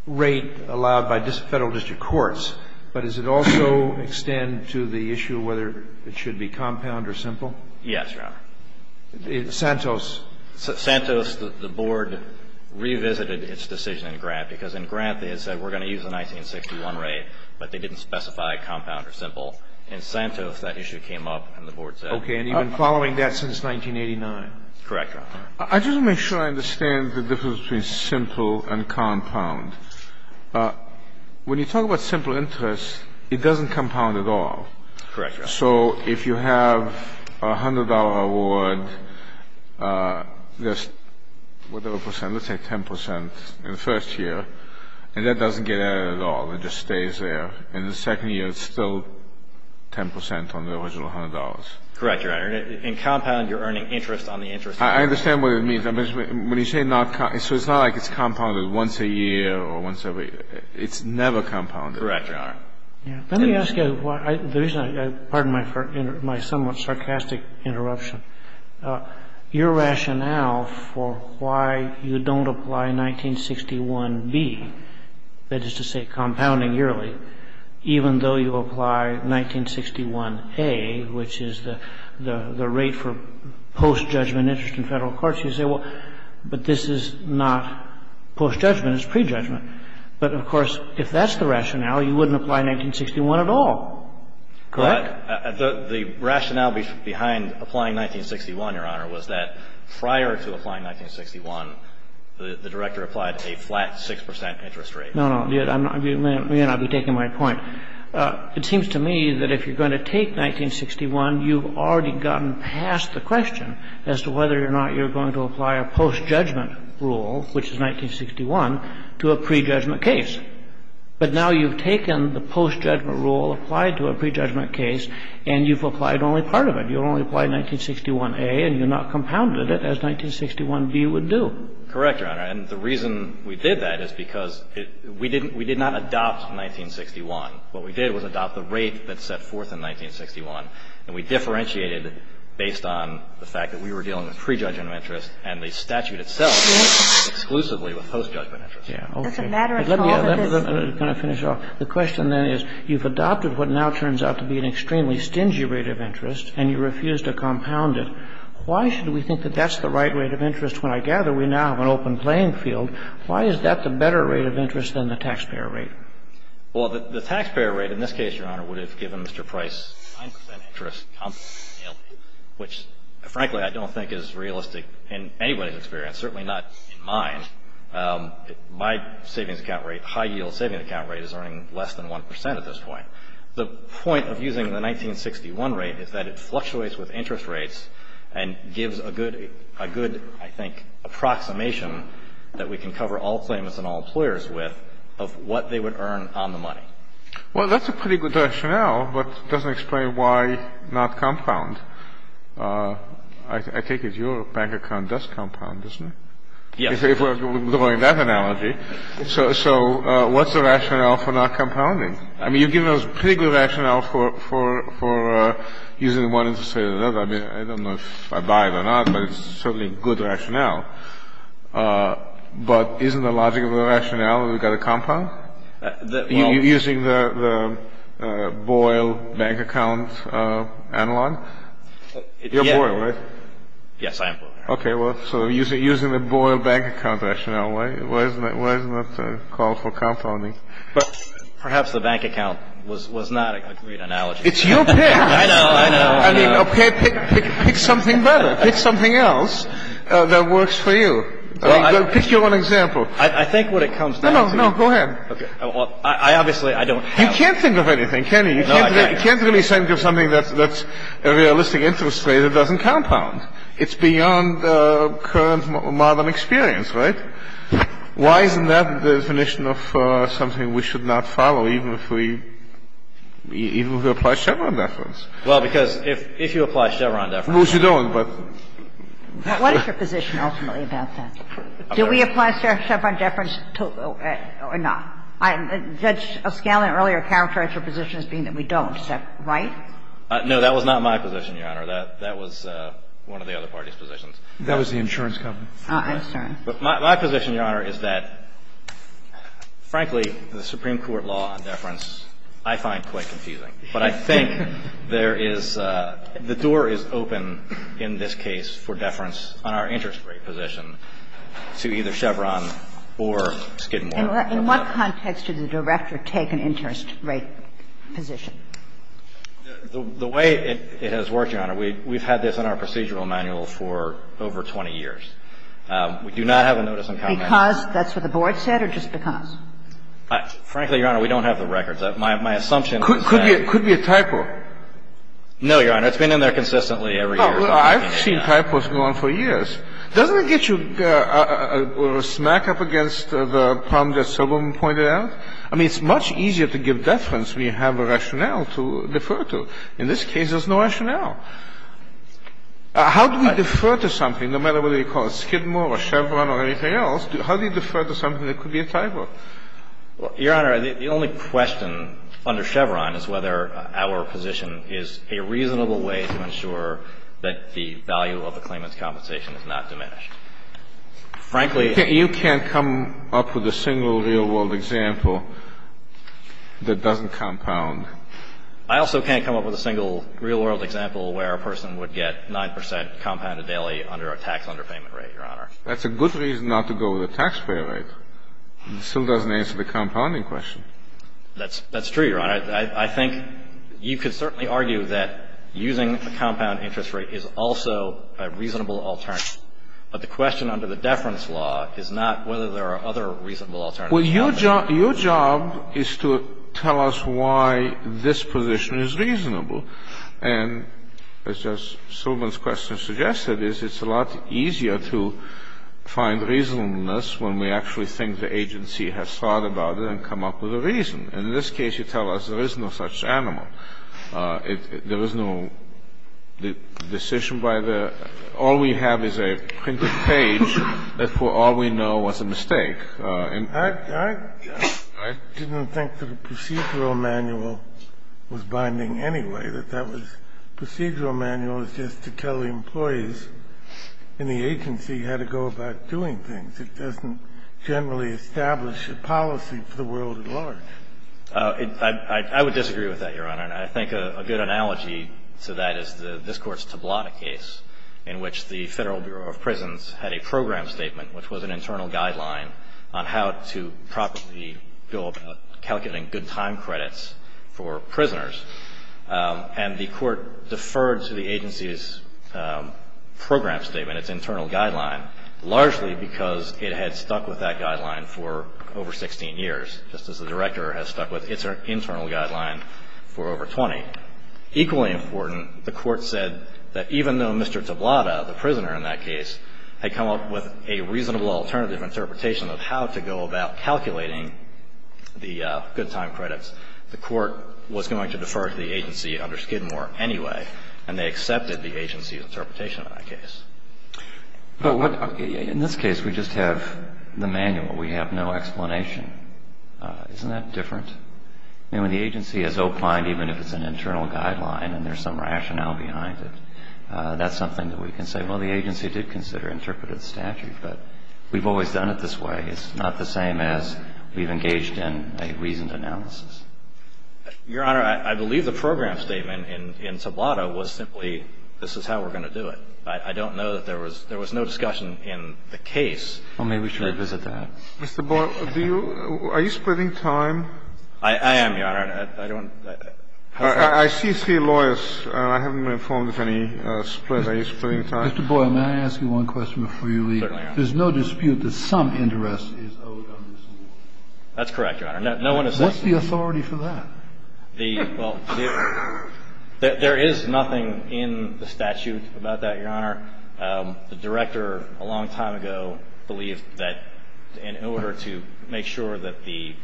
rate allowed by Federal district courts. But does it also extend to the issue whether it should be compound or simple? Yes, Your Honor. In Santos. In Santos, the board revisited its decision in Grant because in Grant they had said we're going to use the 1961 rate, but they didn't specify compound or simple. In Santos, that issue came up and the board said. Okay. And you've been following that since 1989. Correct, Your Honor. I just want to make sure I understand the difference between simple and compound. When you talk about simple interest, it doesn't compound at all. Correct, Your Honor. So if you have a $100 award, there's whatever percent, let's say 10 percent in the first year, and that doesn't get added at all. It just stays there. In the second year, it's still 10 percent on the original $100. Correct, Your Honor. In compound, you're earning interest on the interest. I understand what it means. When you say not compound, so it's not like it's compounded once a year or once every year. It's never compounded. Correct, Your Honor. Let me ask you why the reason I pardon my somewhat sarcastic interruption. Your rationale for why you don't apply 1961B, that is to say compounding yearly, even though you apply 1961A, which is the rate for post-judgment interest in Federal Courts, you say, well, but this is not post-judgment, it's prejudgment. But, of course, if that's the rationale, you wouldn't apply 1961 at all. Correct? The rationale behind applying 1961, Your Honor, was that prior to applying 1961, the Director applied a flat 6 percent interest rate. No, no. I'll be taking my point. It seems to me that if you're going to take 1961, you've already gotten past the question of whether or not you're going to apply a post-judgment rule, which is 1961, to a prejudgment case. But now you've taken the post-judgment rule, applied to a prejudgment case, and you've applied only part of it. You've only applied 1961A and you've not compounded it as 1961B would do. Correct, Your Honor. And the reason we did that is because we didn't – we did not adopt 1961. What we did was adopt the rate that's set forth in 1961, and we differentiated it based on the fact that we were dealing with prejudgment of interest and the statute itself exclusively with post-judgment interest. Yeah. Okay. That's a matter of confidence. Can I finish off? The question then is, you've adopted what now turns out to be an extremely stingy rate of interest and you refuse to compound it. Why should we think that that's the right rate of interest when I gather we now have an open playing field? Why is that the better rate of interest than the taxpayer rate? Well, the taxpayer rate in this case, Your Honor, would have given Mr. Price 9 percent interest compounding, which frankly I don't think is realistic in anybody's experience, certainly not in mine. My savings account rate, high-yield savings account rate, is earning less than 1 percent at this point. The point of using the 1961 rate is that it fluctuates with interest rates and gives a good, I think, approximation that we can cover all claimants and all employers with of what they would earn on the money. Well, that's a pretty good rationale, but it doesn't explain why not compound. I take it your bank account does compound, doesn't it? Yes. If we're going with that analogy. So what's the rationale for not compounding? I mean, you've given us a pretty good rationale for using one interest rate or another. I mean, I don't know if I buy it or not, but it's certainly a good rationale. But isn't the logic of the rationale that we've got to compound? Using the Boyle bank account analog? You're Boyle, right? Yes, I am Boyle. Okay, well, so using the Boyle bank account rationale, why isn't that a call for compounding? But perhaps the bank account was not a great analogy. It's your pick. I know, I know. I mean, okay, pick something better. Pick something else that works for you. Pick your own example. I think what it comes down to is... No, no, go ahead. I obviously, I don't... You can't think of anything, can you? No, I can't. You can't really think of something that's a realistic interest rate that doesn't compound. It's beyond current modern experience, right? Why isn't that the definition of something we should not follow, even if we apply Chevron deference? Well, because if you apply Chevron deference... Of course you don't, but... What is your position ultimately about that? Do we apply Chevron deference or not? Judge Scanlon earlier characterized your position as being that we don't. Is that right? No, that was not my position, Your Honor. That was one of the other parties' positions. That was the insurance company. Insurance. My position, Your Honor, is that, frankly, the Supreme Court law on deference I find quite confusing. But I think there is the door is open in this case for deference on our interest rate position to either Chevron or Skidmore. In what context did the director take an interest rate position? The way it has worked, Your Honor, we've had this in our procedural manual for over 20 years. We do not have a notice in common. Because that's what the board said or just because? Frankly, Your Honor, we don't have the records. My assumption is that... Could be a typo. No, Your Honor. It's been in there consistently every year. I've seen typos go on for years. Doesn't it get you a smack up against the problem that Silberman pointed out? I mean, it's much easier to give deference when you have a rationale to defer to. In this case, there's no rationale. How do we defer to something, no matter whether you call it Skidmore or Chevron or anything else? How do you defer to something that could be a typo? Your Honor, the only question under Chevron is whether our position is a reasonable way to ensure that the value of the claimant's compensation is not diminished. Frankly... You can't come up with a single real-world example that doesn't compound. I also can't come up with a single real-world example where a person would get 9 percent compounded daily under a tax underpayment rate, Your Honor. That's a good reason not to go with a taxpayer rate. It still doesn't answer the compounding question. That's true, Your Honor. I think you could certainly argue that using the compound interest rate is also a reasonable alternative, but the question under the deference law is not whether there are other reasonable alternatives. Well, your job is to tell us why this position is reasonable. And as just Silberman's question suggested, it's a lot easier to find reasonableness when we actually think the agency has thought about it and come up with a reason. In this case, you tell us there is no such animal. There was no decision by the --. All we have is a printed page that for all we know was a mistake. I didn't think that a procedural manual was binding anyway, that that was --. A procedural manual is just to tell the employees in the agency how to go about doing things. And I think that's a reasonable alternative. And I think it's a reasonable alternative because it doesn't generally establish a policy for the world at large. I would disagree with that, Your Honor. And I think a good analogy to that is this Court's Tablata case in which the Federal Bureau of Prisons had a program statement which was an internal guideline on how to properly go about calculating good time credits for prisoners. And the Court deferred to the agency's program statement, its internal guideline, largely because it had stuck with that guideline for over 16 years, just as the Director has stuck with its internal guideline for over 20. Equally important, the Court said that even though Mr. Tablata, the prisoner in that case, was going to defer to the agency under Skidmore anyway, and they accepted the agency's interpretation of that case. But what -- In this case, we just have the manual. We have no explanation. Isn't that different? I mean, when the agency has opined even if it's an internal guideline and there's some rationale behind it, that's something that we can say, well, the agency did consider interpretative statute. But we've always done it this way. It's not the same as we've engaged in a reasoned analysis. Your Honor, I believe the program statement in Tablata was simply, this is how we're going to do it. I don't know that there was no discussion in the case. Well, maybe we should revisit that. Mr. Boyle, do you – are you splitting time? I am, Your Honor. I don't – I see three lawyers, and I haven't been informed of any split. Are you splitting time? Mr. Boyle, may I ask you one question before you leave? Certainly, Your Honor. There's no dispute that some interest is owed under this law? That's correct, Your Honor. No one has said that. What's the authority for that? The – well, the – there is nothing in the statute about that, Your Honor. The director a long time ago believed that in order to make sure that the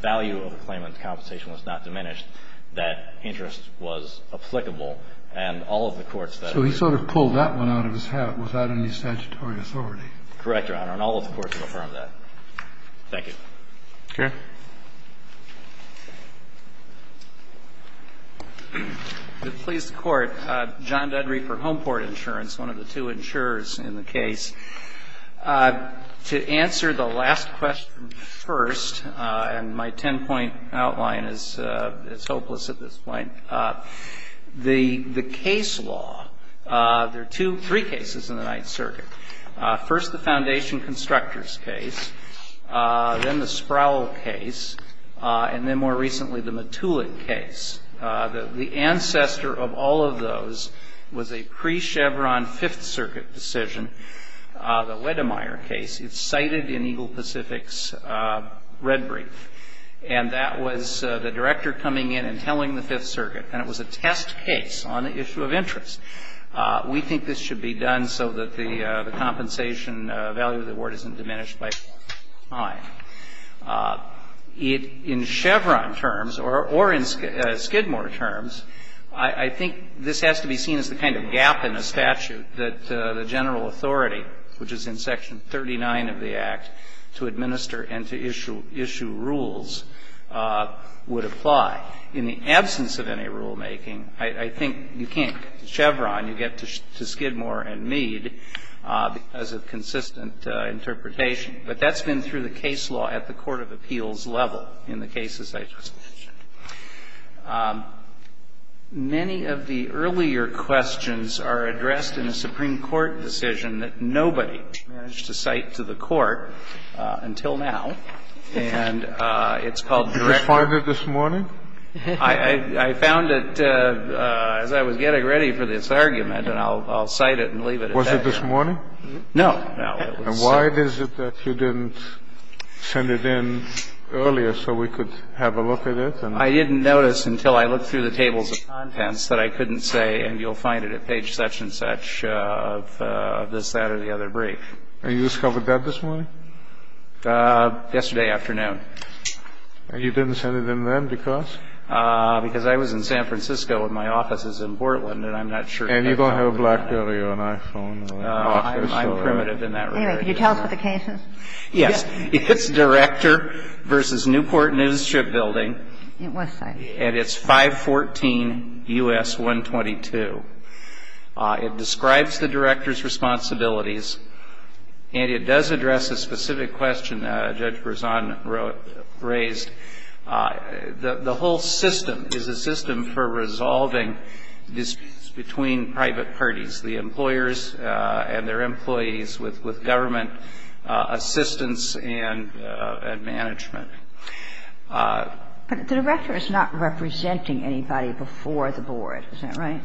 value of a claimant's compensation was not diminished, that interest was applicable. And all of the courts that – So he sort of pulled that one out of his hat without any statutory authority. Correct, Your Honor. And all of the courts affirm that. Thank you. Okay. Please, the Court. John Dudrey for Homeport Insurance, one of the two insurers in the case. To answer the last question first, and my ten-point outline is – it's hopeless at this point – the case law, there are two – three cases in the Ninth Circuit. First, the Foundation Constructors case. Then the Sproul case. And then more recently, the Matulik case. The ancestor of all of those was a pre-Chevron Fifth Circuit decision, the Wedemeyer case. It's cited in Eagle Pacific's red brief. And that was the director coming in and telling the Fifth Circuit, and it was a test case on an issue of interest. We think this should be done so that the compensation value of the award isn't diminished by time. In Chevron terms, or in Skidmore terms, I think this has to be seen as the kind of gap in the statute that the general authority, which is in Section 39 of the Act, to administer and to issue rules would apply. In the absence of any rulemaking, I think you can't get to Chevron. You get to Skidmore and Mead as a consistent interpretation. But that's been through the case law at the court of appeals level in the cases I just mentioned. Many of the earlier questions are addressed in a Supreme Court decision that nobody managed to cite to the court until now. And it's called direct. Did you find it this morning? I found it as I was getting ready for this argument. And I'll cite it and leave it at that. Was it this morning? No. And why is it that you didn't send it in earlier so we could have a look at it? I didn't notice until I looked through the tables of contents that I couldn't say, and you'll find it at page such and such of this, that, or the other brief. And you discovered that this morning? Yesterday afternoon. And you didn't send it in then because? Because I was in San Francisco and my office is in Portland, and I'm not sure if I found it. And you don't have a BlackBerry or an iPhone. I'm primitive in that regard. Anyway, could you tell us what the case is? Yes. It's Director v. Newport News Shipbuilding. It was cited. And it's 514 U.S. 122. It describes the director's responsibilities, and it does address a specific question Judge Berzon raised. The whole system is a system for resolving disputes between private parties, the employers and their employees, with government assistance and management. But the director is not representing anybody before the board. Is that right?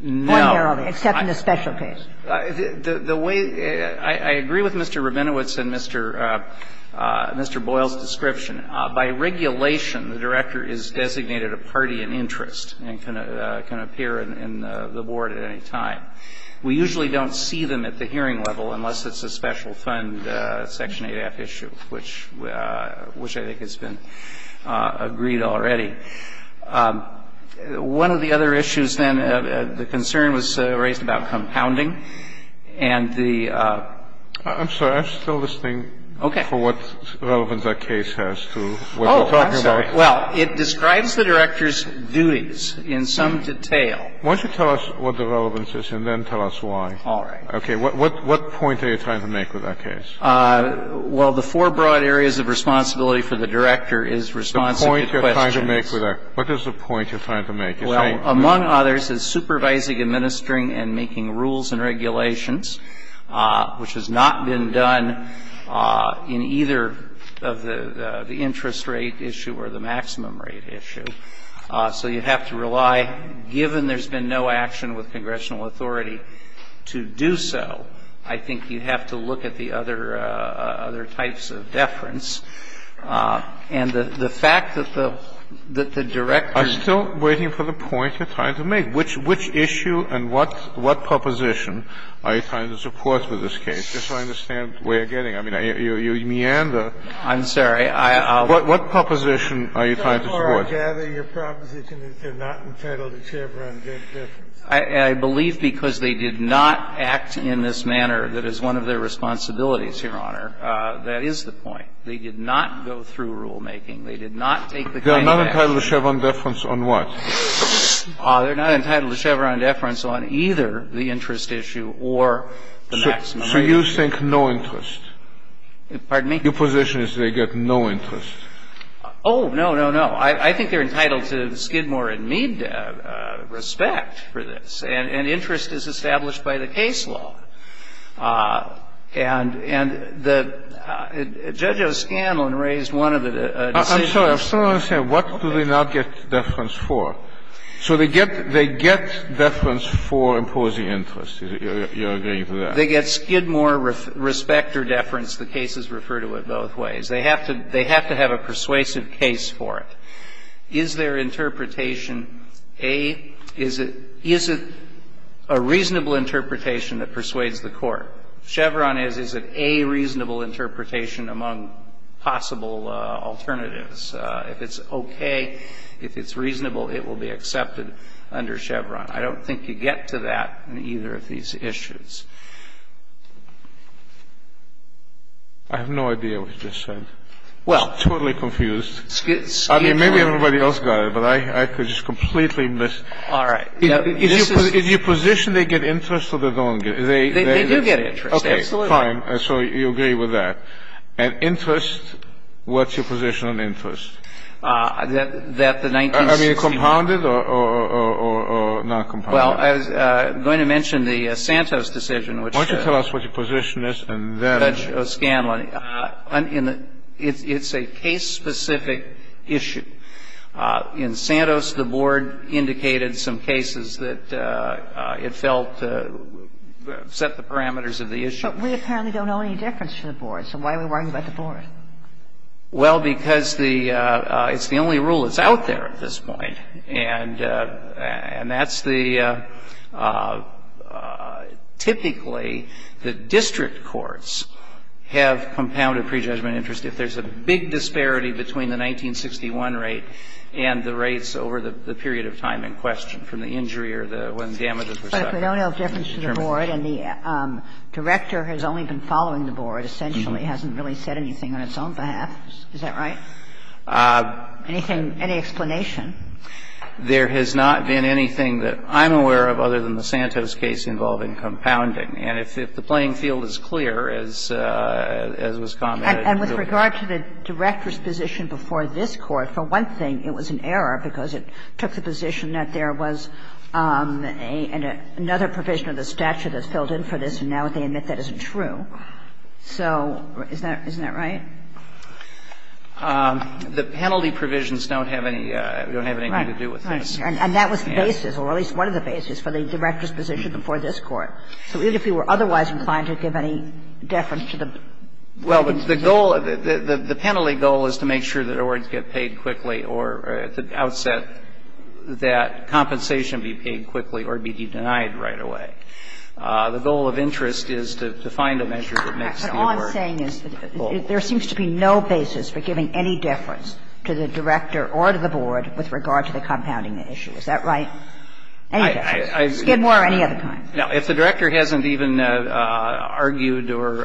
No. Except in the special case. The way — I agree with Mr. Rabinowitz and Mr. Boyle's description. By regulation, the director is designated a party in interest and can appear in the board at any time. We usually don't see them at the hearing level unless it's a special fund Section 98F issue, which I think has been agreed already. One of the other issues, then, the concern was raised about compounding. And the — I'm sorry. I'm still listening for what relevance that case has to what we're talking about. Oh, I'm sorry. Well, it describes the director's duties in some detail. Why don't you tell us what the relevance is, and then tell us why. All right. Okay. What point are you trying to make with that case? Well, the four broad areas of responsibility for the director is responsive to questions. The point you're trying to make with that. What is the point you're trying to make? Well, among others is supervising, administering, and making rules and regulations, which has not been done in either of the interest rate issue or the maximum rate issue. So you have to rely, given there's been no action with congressional authority to do so, I think you have to look at the other types of deference. And the fact that the director — I'm still waiting for the point you're trying to make. Which issue and what proposition are you trying to support with this case? Just so I understand where you're getting. I mean, you meander. I'm sorry. What proposition are you trying to support? I gather your proposition is they're not entitled to Chevron deference. I believe because they did not act in this manner that is one of their responsibilities, Your Honor. That is the point. They did not go through rulemaking. They did not take the kind of action. They're not entitled to Chevron deference on what? They're not entitled to Chevron deference on either the interest issue or the maximum rate issue. So you think no interest? Pardon me? Your position is they get no interest? Oh, no, no, no. I think they're entitled to Skidmore and Mead respect for this. And interest is established by the case law. And the judge of Scanlon raised one of the decisions. I'm sorry. I'm still trying to understand. What do they not get deference for? So they get deference for imposing interest. You're agreeing to that? They get Skidmore respect or deference. The cases refer to it both ways. They have to have a persuasive case for it. Is there interpretation A? Is it a reasonable interpretation that persuades the court? Chevron is, is it a reasonable interpretation among possible alternatives? If it's okay, if it's reasonable, it will be accepted under Chevron. I don't think you get to that in either of these issues. I have no idea what you're saying. Well. I'm totally confused. Skidmore. I mean, maybe everybody else got it, but I could just completely miss. All right. Is your position they get interest or they don't get interest? They do get interest. Absolutely. Okay. Fine. So you agree with that. And interest, what's your position on interest? That the 1916. Are they compounded or non-compounded? Well, I was going to mention the Santos decision, which. Why don't you tell us what your position is and then. Judge O'Scanlan, it's a case-specific issue. In Santos, the board indicated some cases that it felt set the parameters of the issue. But we apparently don't know any difference to the board. So why are we worrying about the board? Well, because the, it's the only rule that's out there at this point. And that's the, typically, the district courts have compounded prejudgment interest if there's a big disparity between the 1961 rate and the rates over the period of time in question, from the injury or the, when damages were. But we don't know the difference to the board. And the director has only been following the board, essentially, hasn't really said anything on its own behalf. Is that right? No. Any explanation? There has not been anything that I'm aware of other than the Santos case involving compounding. And if the playing field is clear, as was commented. And with regard to the director's position before this Court, for one thing, it was an error because it took the position that there was another provision of the statute that's filled in for this, and now they admit that isn't true. So isn't that right? The penalty provisions don't have any, don't have anything to do with this. Right. Right. And that was the basis, or at least one of the bases, for the director's position before this Court. So even if you were otherwise inclined to give any deference to the position? Well, the goal of it, the penalty goal is to make sure that awards get paid quickly or to outset that compensation be paid quickly or be denied right away. The goal of interest is to find a measure that makes the award full. So what I'm saying is there seems to be no basis for giving any deference to the director or to the board with regard to the compounding issue. Is that right? Any deference? Skidmore or any other kind? No. If the director hasn't even argued or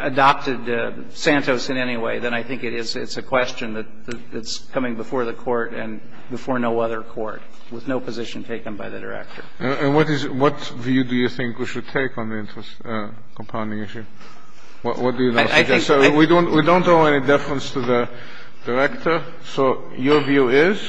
adopted Santos in any way, then I think it is a question that's coming before the Court and before no other Court with no position taken by the director. And what is the view do you think we should take on the compounding issue? What do you suggest? We don't owe any deference to the director. So your view is?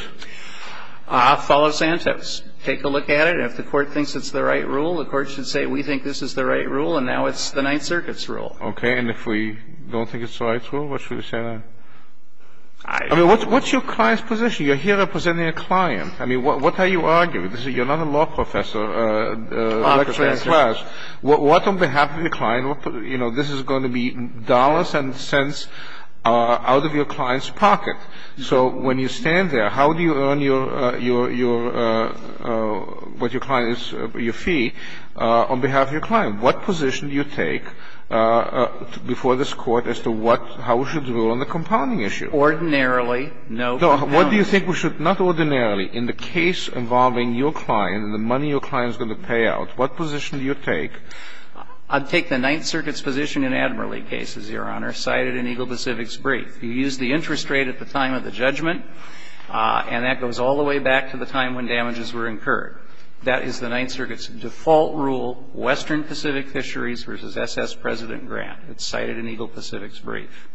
Follow Santos. Take a look at it. And if the Court thinks it's the right rule, the Court should say we think this is the right rule, and now it's the Ninth Circuit's rule. Okay. And if we don't think it's the right rule, what should we say then? I don't know. I mean, what's your client's position? You're here representing a client. I mean, what are you arguing? You're not a law professor lecturing a class. Law professor. But what on behalf of your client, you know, this is going to be dollars and cents out of your client's pocket. So when you stand there, how do you earn your, what your client is, your fee on behalf of your client? What position do you take before this Court as to what, how we should rule on the compounding issue? Ordinarily, no compounding. No. What do you think we should? Not ordinarily. In the case involving your client and the money your client is going to pay out, what position do you take? I'd take the Ninth Circuit's position in Admiralty cases, Your Honor, cited in Eagle Pacific's brief. You use the interest rate at the time of the judgment, and that goes all the way back to the time when damages were incurred. That is the Ninth Circuit's default rule, Western Pacific Fisheries v. S.S. President Grant. It's cited in Eagle Pacific's brief.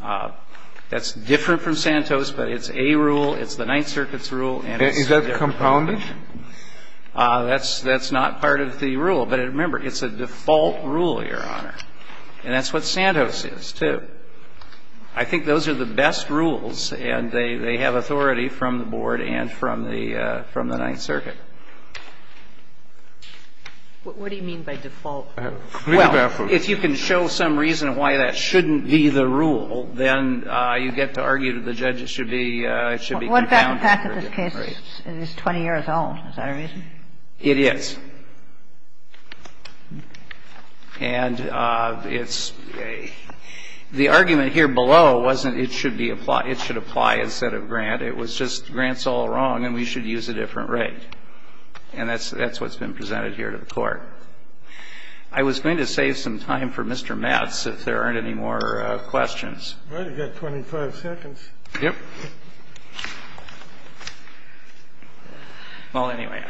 That's different from Santos, but it's a rule, it's the Ninth Circuit's rule, and it's a different rule. Is that compounded? That's not part of the rule. But remember, it's a default rule, Your Honor. And that's what Santos is, too. I think those are the best rules, and they have authority from the Board and from the Ninth Circuit. What do you mean by default rule? Well, if you can show some reason why that shouldn't be the rule, then you get to argue that the judges should be, it should be compounded. And what about the fact that this case is 20 years old? Is that a reason? It is. And it's the argument here below wasn't it should be applied, it should apply instead of Grant. It was just Grant's all wrong and we should use a different rate. And that's what's been presented here to the Court. I was going to save some time for Mr. Metz if there aren't any more questions. All right. You've got 25 seconds. Yep. Well, anyway,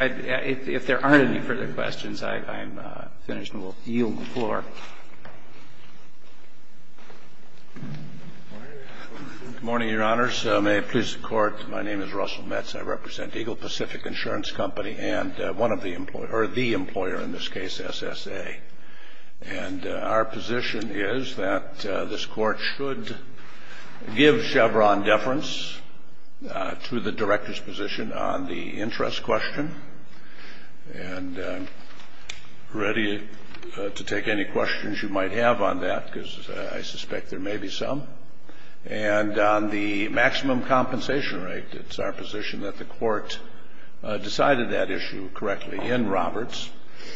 if there aren't any further questions, I'm finished and will yield the floor. Good morning, Your Honors. May it please the Court. My name is Russell Metz. I represent Eagle Pacific Insurance Company and one of the employers, or the employer in this case, SSA. And our position is that this Court should give Chevron deference to the Director's position on the interest question. And I'm ready to take any questions you might have on that because I suspect there may be some. And on the maximum compensation rate, it's our position that the Court decided that issue correctly in Roberts.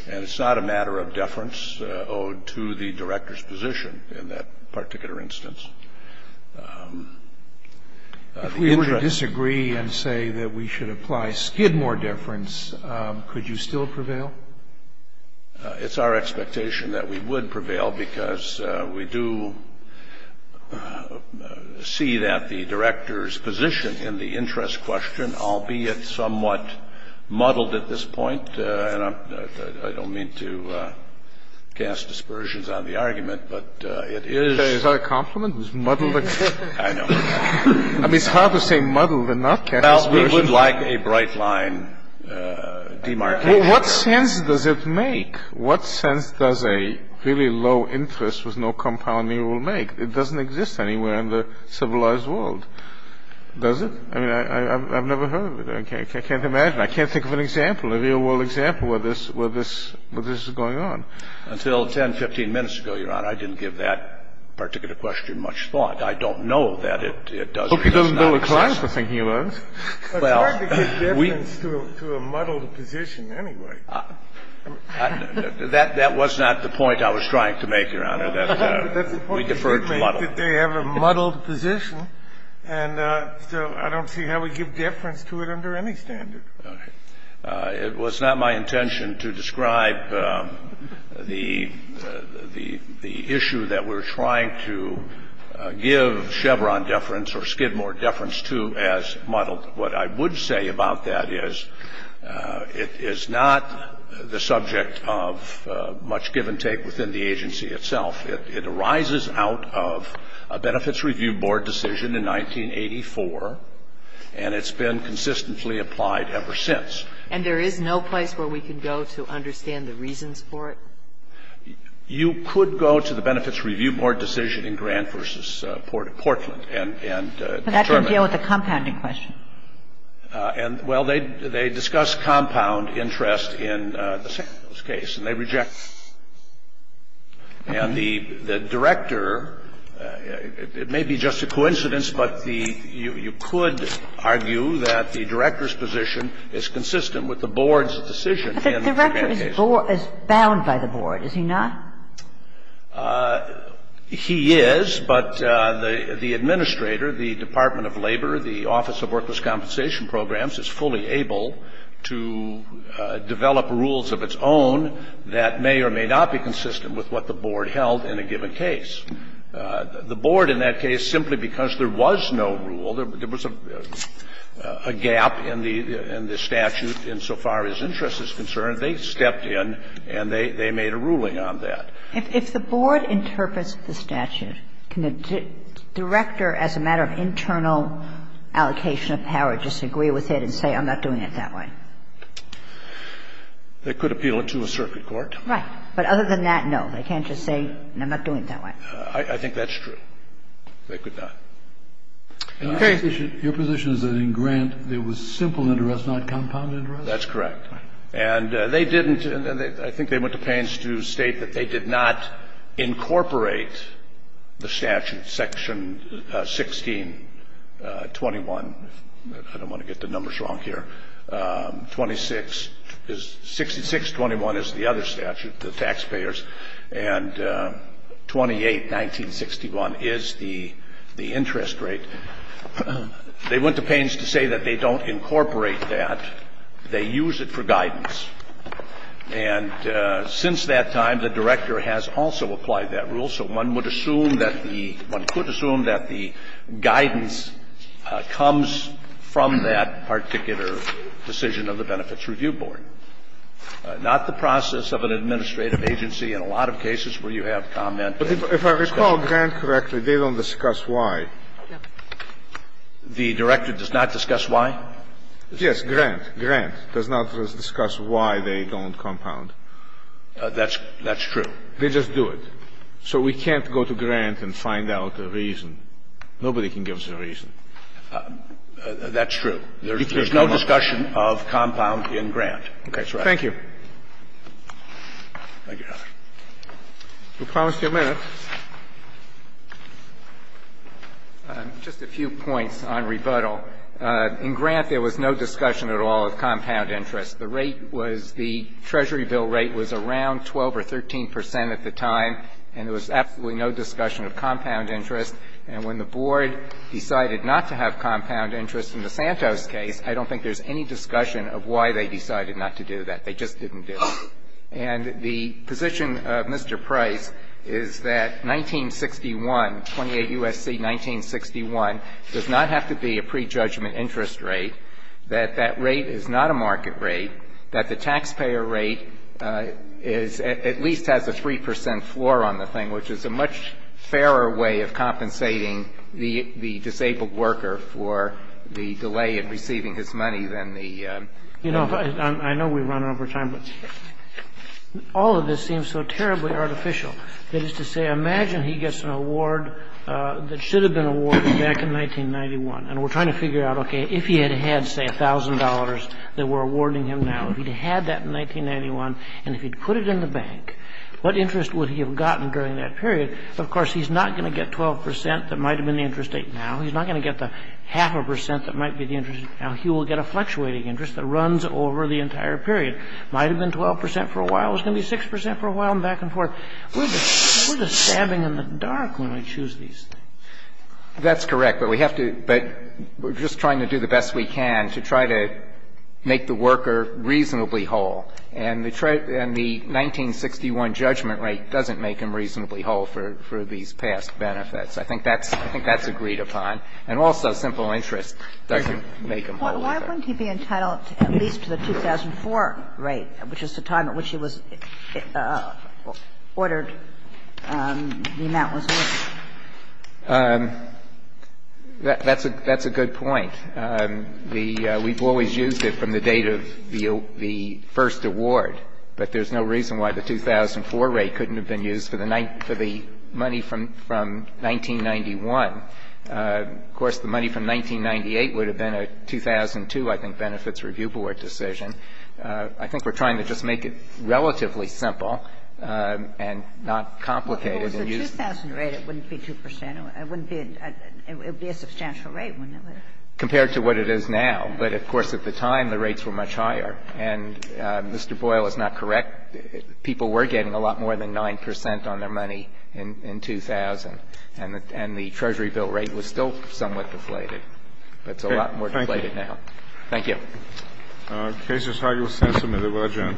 And it's not a matter of deference owed to the Director's position in that particular instance. If we were to disagree and say that we should apply Skidmore deference, could you still prevail? It's our expectation that we would prevail because we do see that the Director's position in the interest question, albeit somewhat muddled at this point, and I don't mean to cast aspersions on the argument, but it is. Is that a compliment? Muddled? I know. I mean, it's hard to say muddled and not cast aspersions. Well, we would like a bright line demarcated. What sense does it make? What sense does a really low interest with no compounding rule make? It doesn't exist anywhere in the civilized world, does it? I mean, I've never heard of it. I can't imagine. I can't think of an example, a real world example, where this is going on. Until 10, 15 minutes ago, Your Honor, I didn't give that particular question much thought. I don't know that it does or does not exist. I hope he doesn't build a class for thinking alone. Well, we – It's hard to give deference to a muddled position anyway. That was not the point I was trying to make, Your Honor. We deferred to muddled. They have a muddled position, and so I don't see how we give deference to it under any standard. Okay. It was not my intention to describe the issue that we're trying to give Chevron deference I just want to say that it's not that difficult of a question to answer. What I would say about that is it is not the subject of much give and take within the agency itself. It arises out of a Benefits Review Board decision in 1984, and it's been consistently applied ever since. And there is no place where we can go to understand the reasons for it? You could go to the Benefits Review Board decision in Grant v. Portland and determine. But that would deal with the compounding question. And, well, they discuss compound interest in the Santos case, and they reject it. And the director, it may be just a coincidence, but the you could argue that the director's position is consistent with the board's decision in the Grant case. But the director is bound by the board, is he not? He is, but the administrator, the Department of Labor, the Office of Worthless Compensation Programs is fully able to develop rules of its own that may or may not be consistent with what the board held in a given case. The board in that case, simply because there was no rule, there was a gap in the statute insofar as interest is concerned, they stepped in and they made a ruling on that. If the board interprets the statute, can the director, as a matter of internal allocation of power, just agree with it and say, I'm not doing it that way? They could appeal it to a circuit court. Right. But other than that, no, they can't just say, I'm not doing it that way. I think that's true. They could not. Your position is that in Grant there was simple interest, not compound interest? That's correct. And they didn't, I think they went to pains to state that they did not incorporate the statute, section 1621, I don't want to get the numbers wrong here, 6621 is the other statute, the taxpayers, and 28, 1961, is the interest rate. They went to pains to say that they don't incorporate that. They use it for guidance. And since that time, the director has also applied that rule. So one would assume that the one could assume that the guidance comes from that particular decision of the Benefits Review Board. Not the process of an administrative agency. In a lot of cases where you have comment. But if I recall Grant correctly, they don't discuss why. The director does not discuss why? Yes, Grant. Grant does not discuss why they don't compound. That's true. They just do it. So we can't go to Grant and find out the reason. That's true. There's no discussion of compound in Grant. That's right. Thank you. Thank you, Your Honor. You promised your minutes. Just a few points on rebuttal. In Grant, there was no discussion at all of compound interest. The rate was the Treasury bill rate was around 12 or 13 percent at the time, and there was absolutely no discussion of compound interest. And when the board decided not to have compound interest in the Santos case, I don't think there's any discussion of why they decided not to do that. They just didn't do it. And the position of Mr. Price is that 1961, 28 U.S.C., 1961, does not have to be a prejudgment interest rate, that that rate is not a market rate, that the taxpayer rate is at least has a 3 percent floor on the thing, which is a much fairer way of compensating the disabled worker for the delay in receiving his money than the... You know, I know we've run over time, but all of this seems so terribly artificial. That is to say, imagine he gets an award that should have been awarded back in 1991. And we're trying to figure out, okay, if he had had, say, $1,000 that we're awarding him now, if he'd had that in 1991, and if he'd put it in the bank, what interest would he have gotten during that period? Of course, he's not going to get 12 percent that might have been the interest rate now. He's not going to get the half a percent that might be the interest rate now. He will get a fluctuating interest that runs over the entire period. It might have been 12 percent for a while. It was going to be 6 percent for a while, and back and forth. We're just stabbing in the dark when we choose these things. That's correct. But we have to – but we're just trying to do the best we can to try to make the worker reasonably whole. And the 1961 judgment rate doesn't make him reasonably whole for these past benefits. I think that's – I think that's agreed upon. And also simple interest doesn't make him whole either. Why wouldn't he be entitled at least to the 2004 rate, which is the time at which it was ordered the amount was worth? That's a good point. We've always used it from the date of the first award, but there's no reason why the 2004 rate couldn't have been used for the money from 1991. Of course, the money from 1998 would have been a 2002, I think, benefits review board decision. I think we're trying to just make it relatively simple and not complicated and use it. Well, with the 2000 rate, it wouldn't be 2 percent. It wouldn't be a substantial rate, wouldn't it? Compared to what it is now. But, of course, at the time, the rates were much higher. And Mr. Boyle is not correct. People were getting a lot more than 9 percent on their money in 2000, and the Treasury bill rate was still somewhat deflated. It's a lot more deflated now. Thank you. Thank you. The case is argued in the sense that it was adjourned.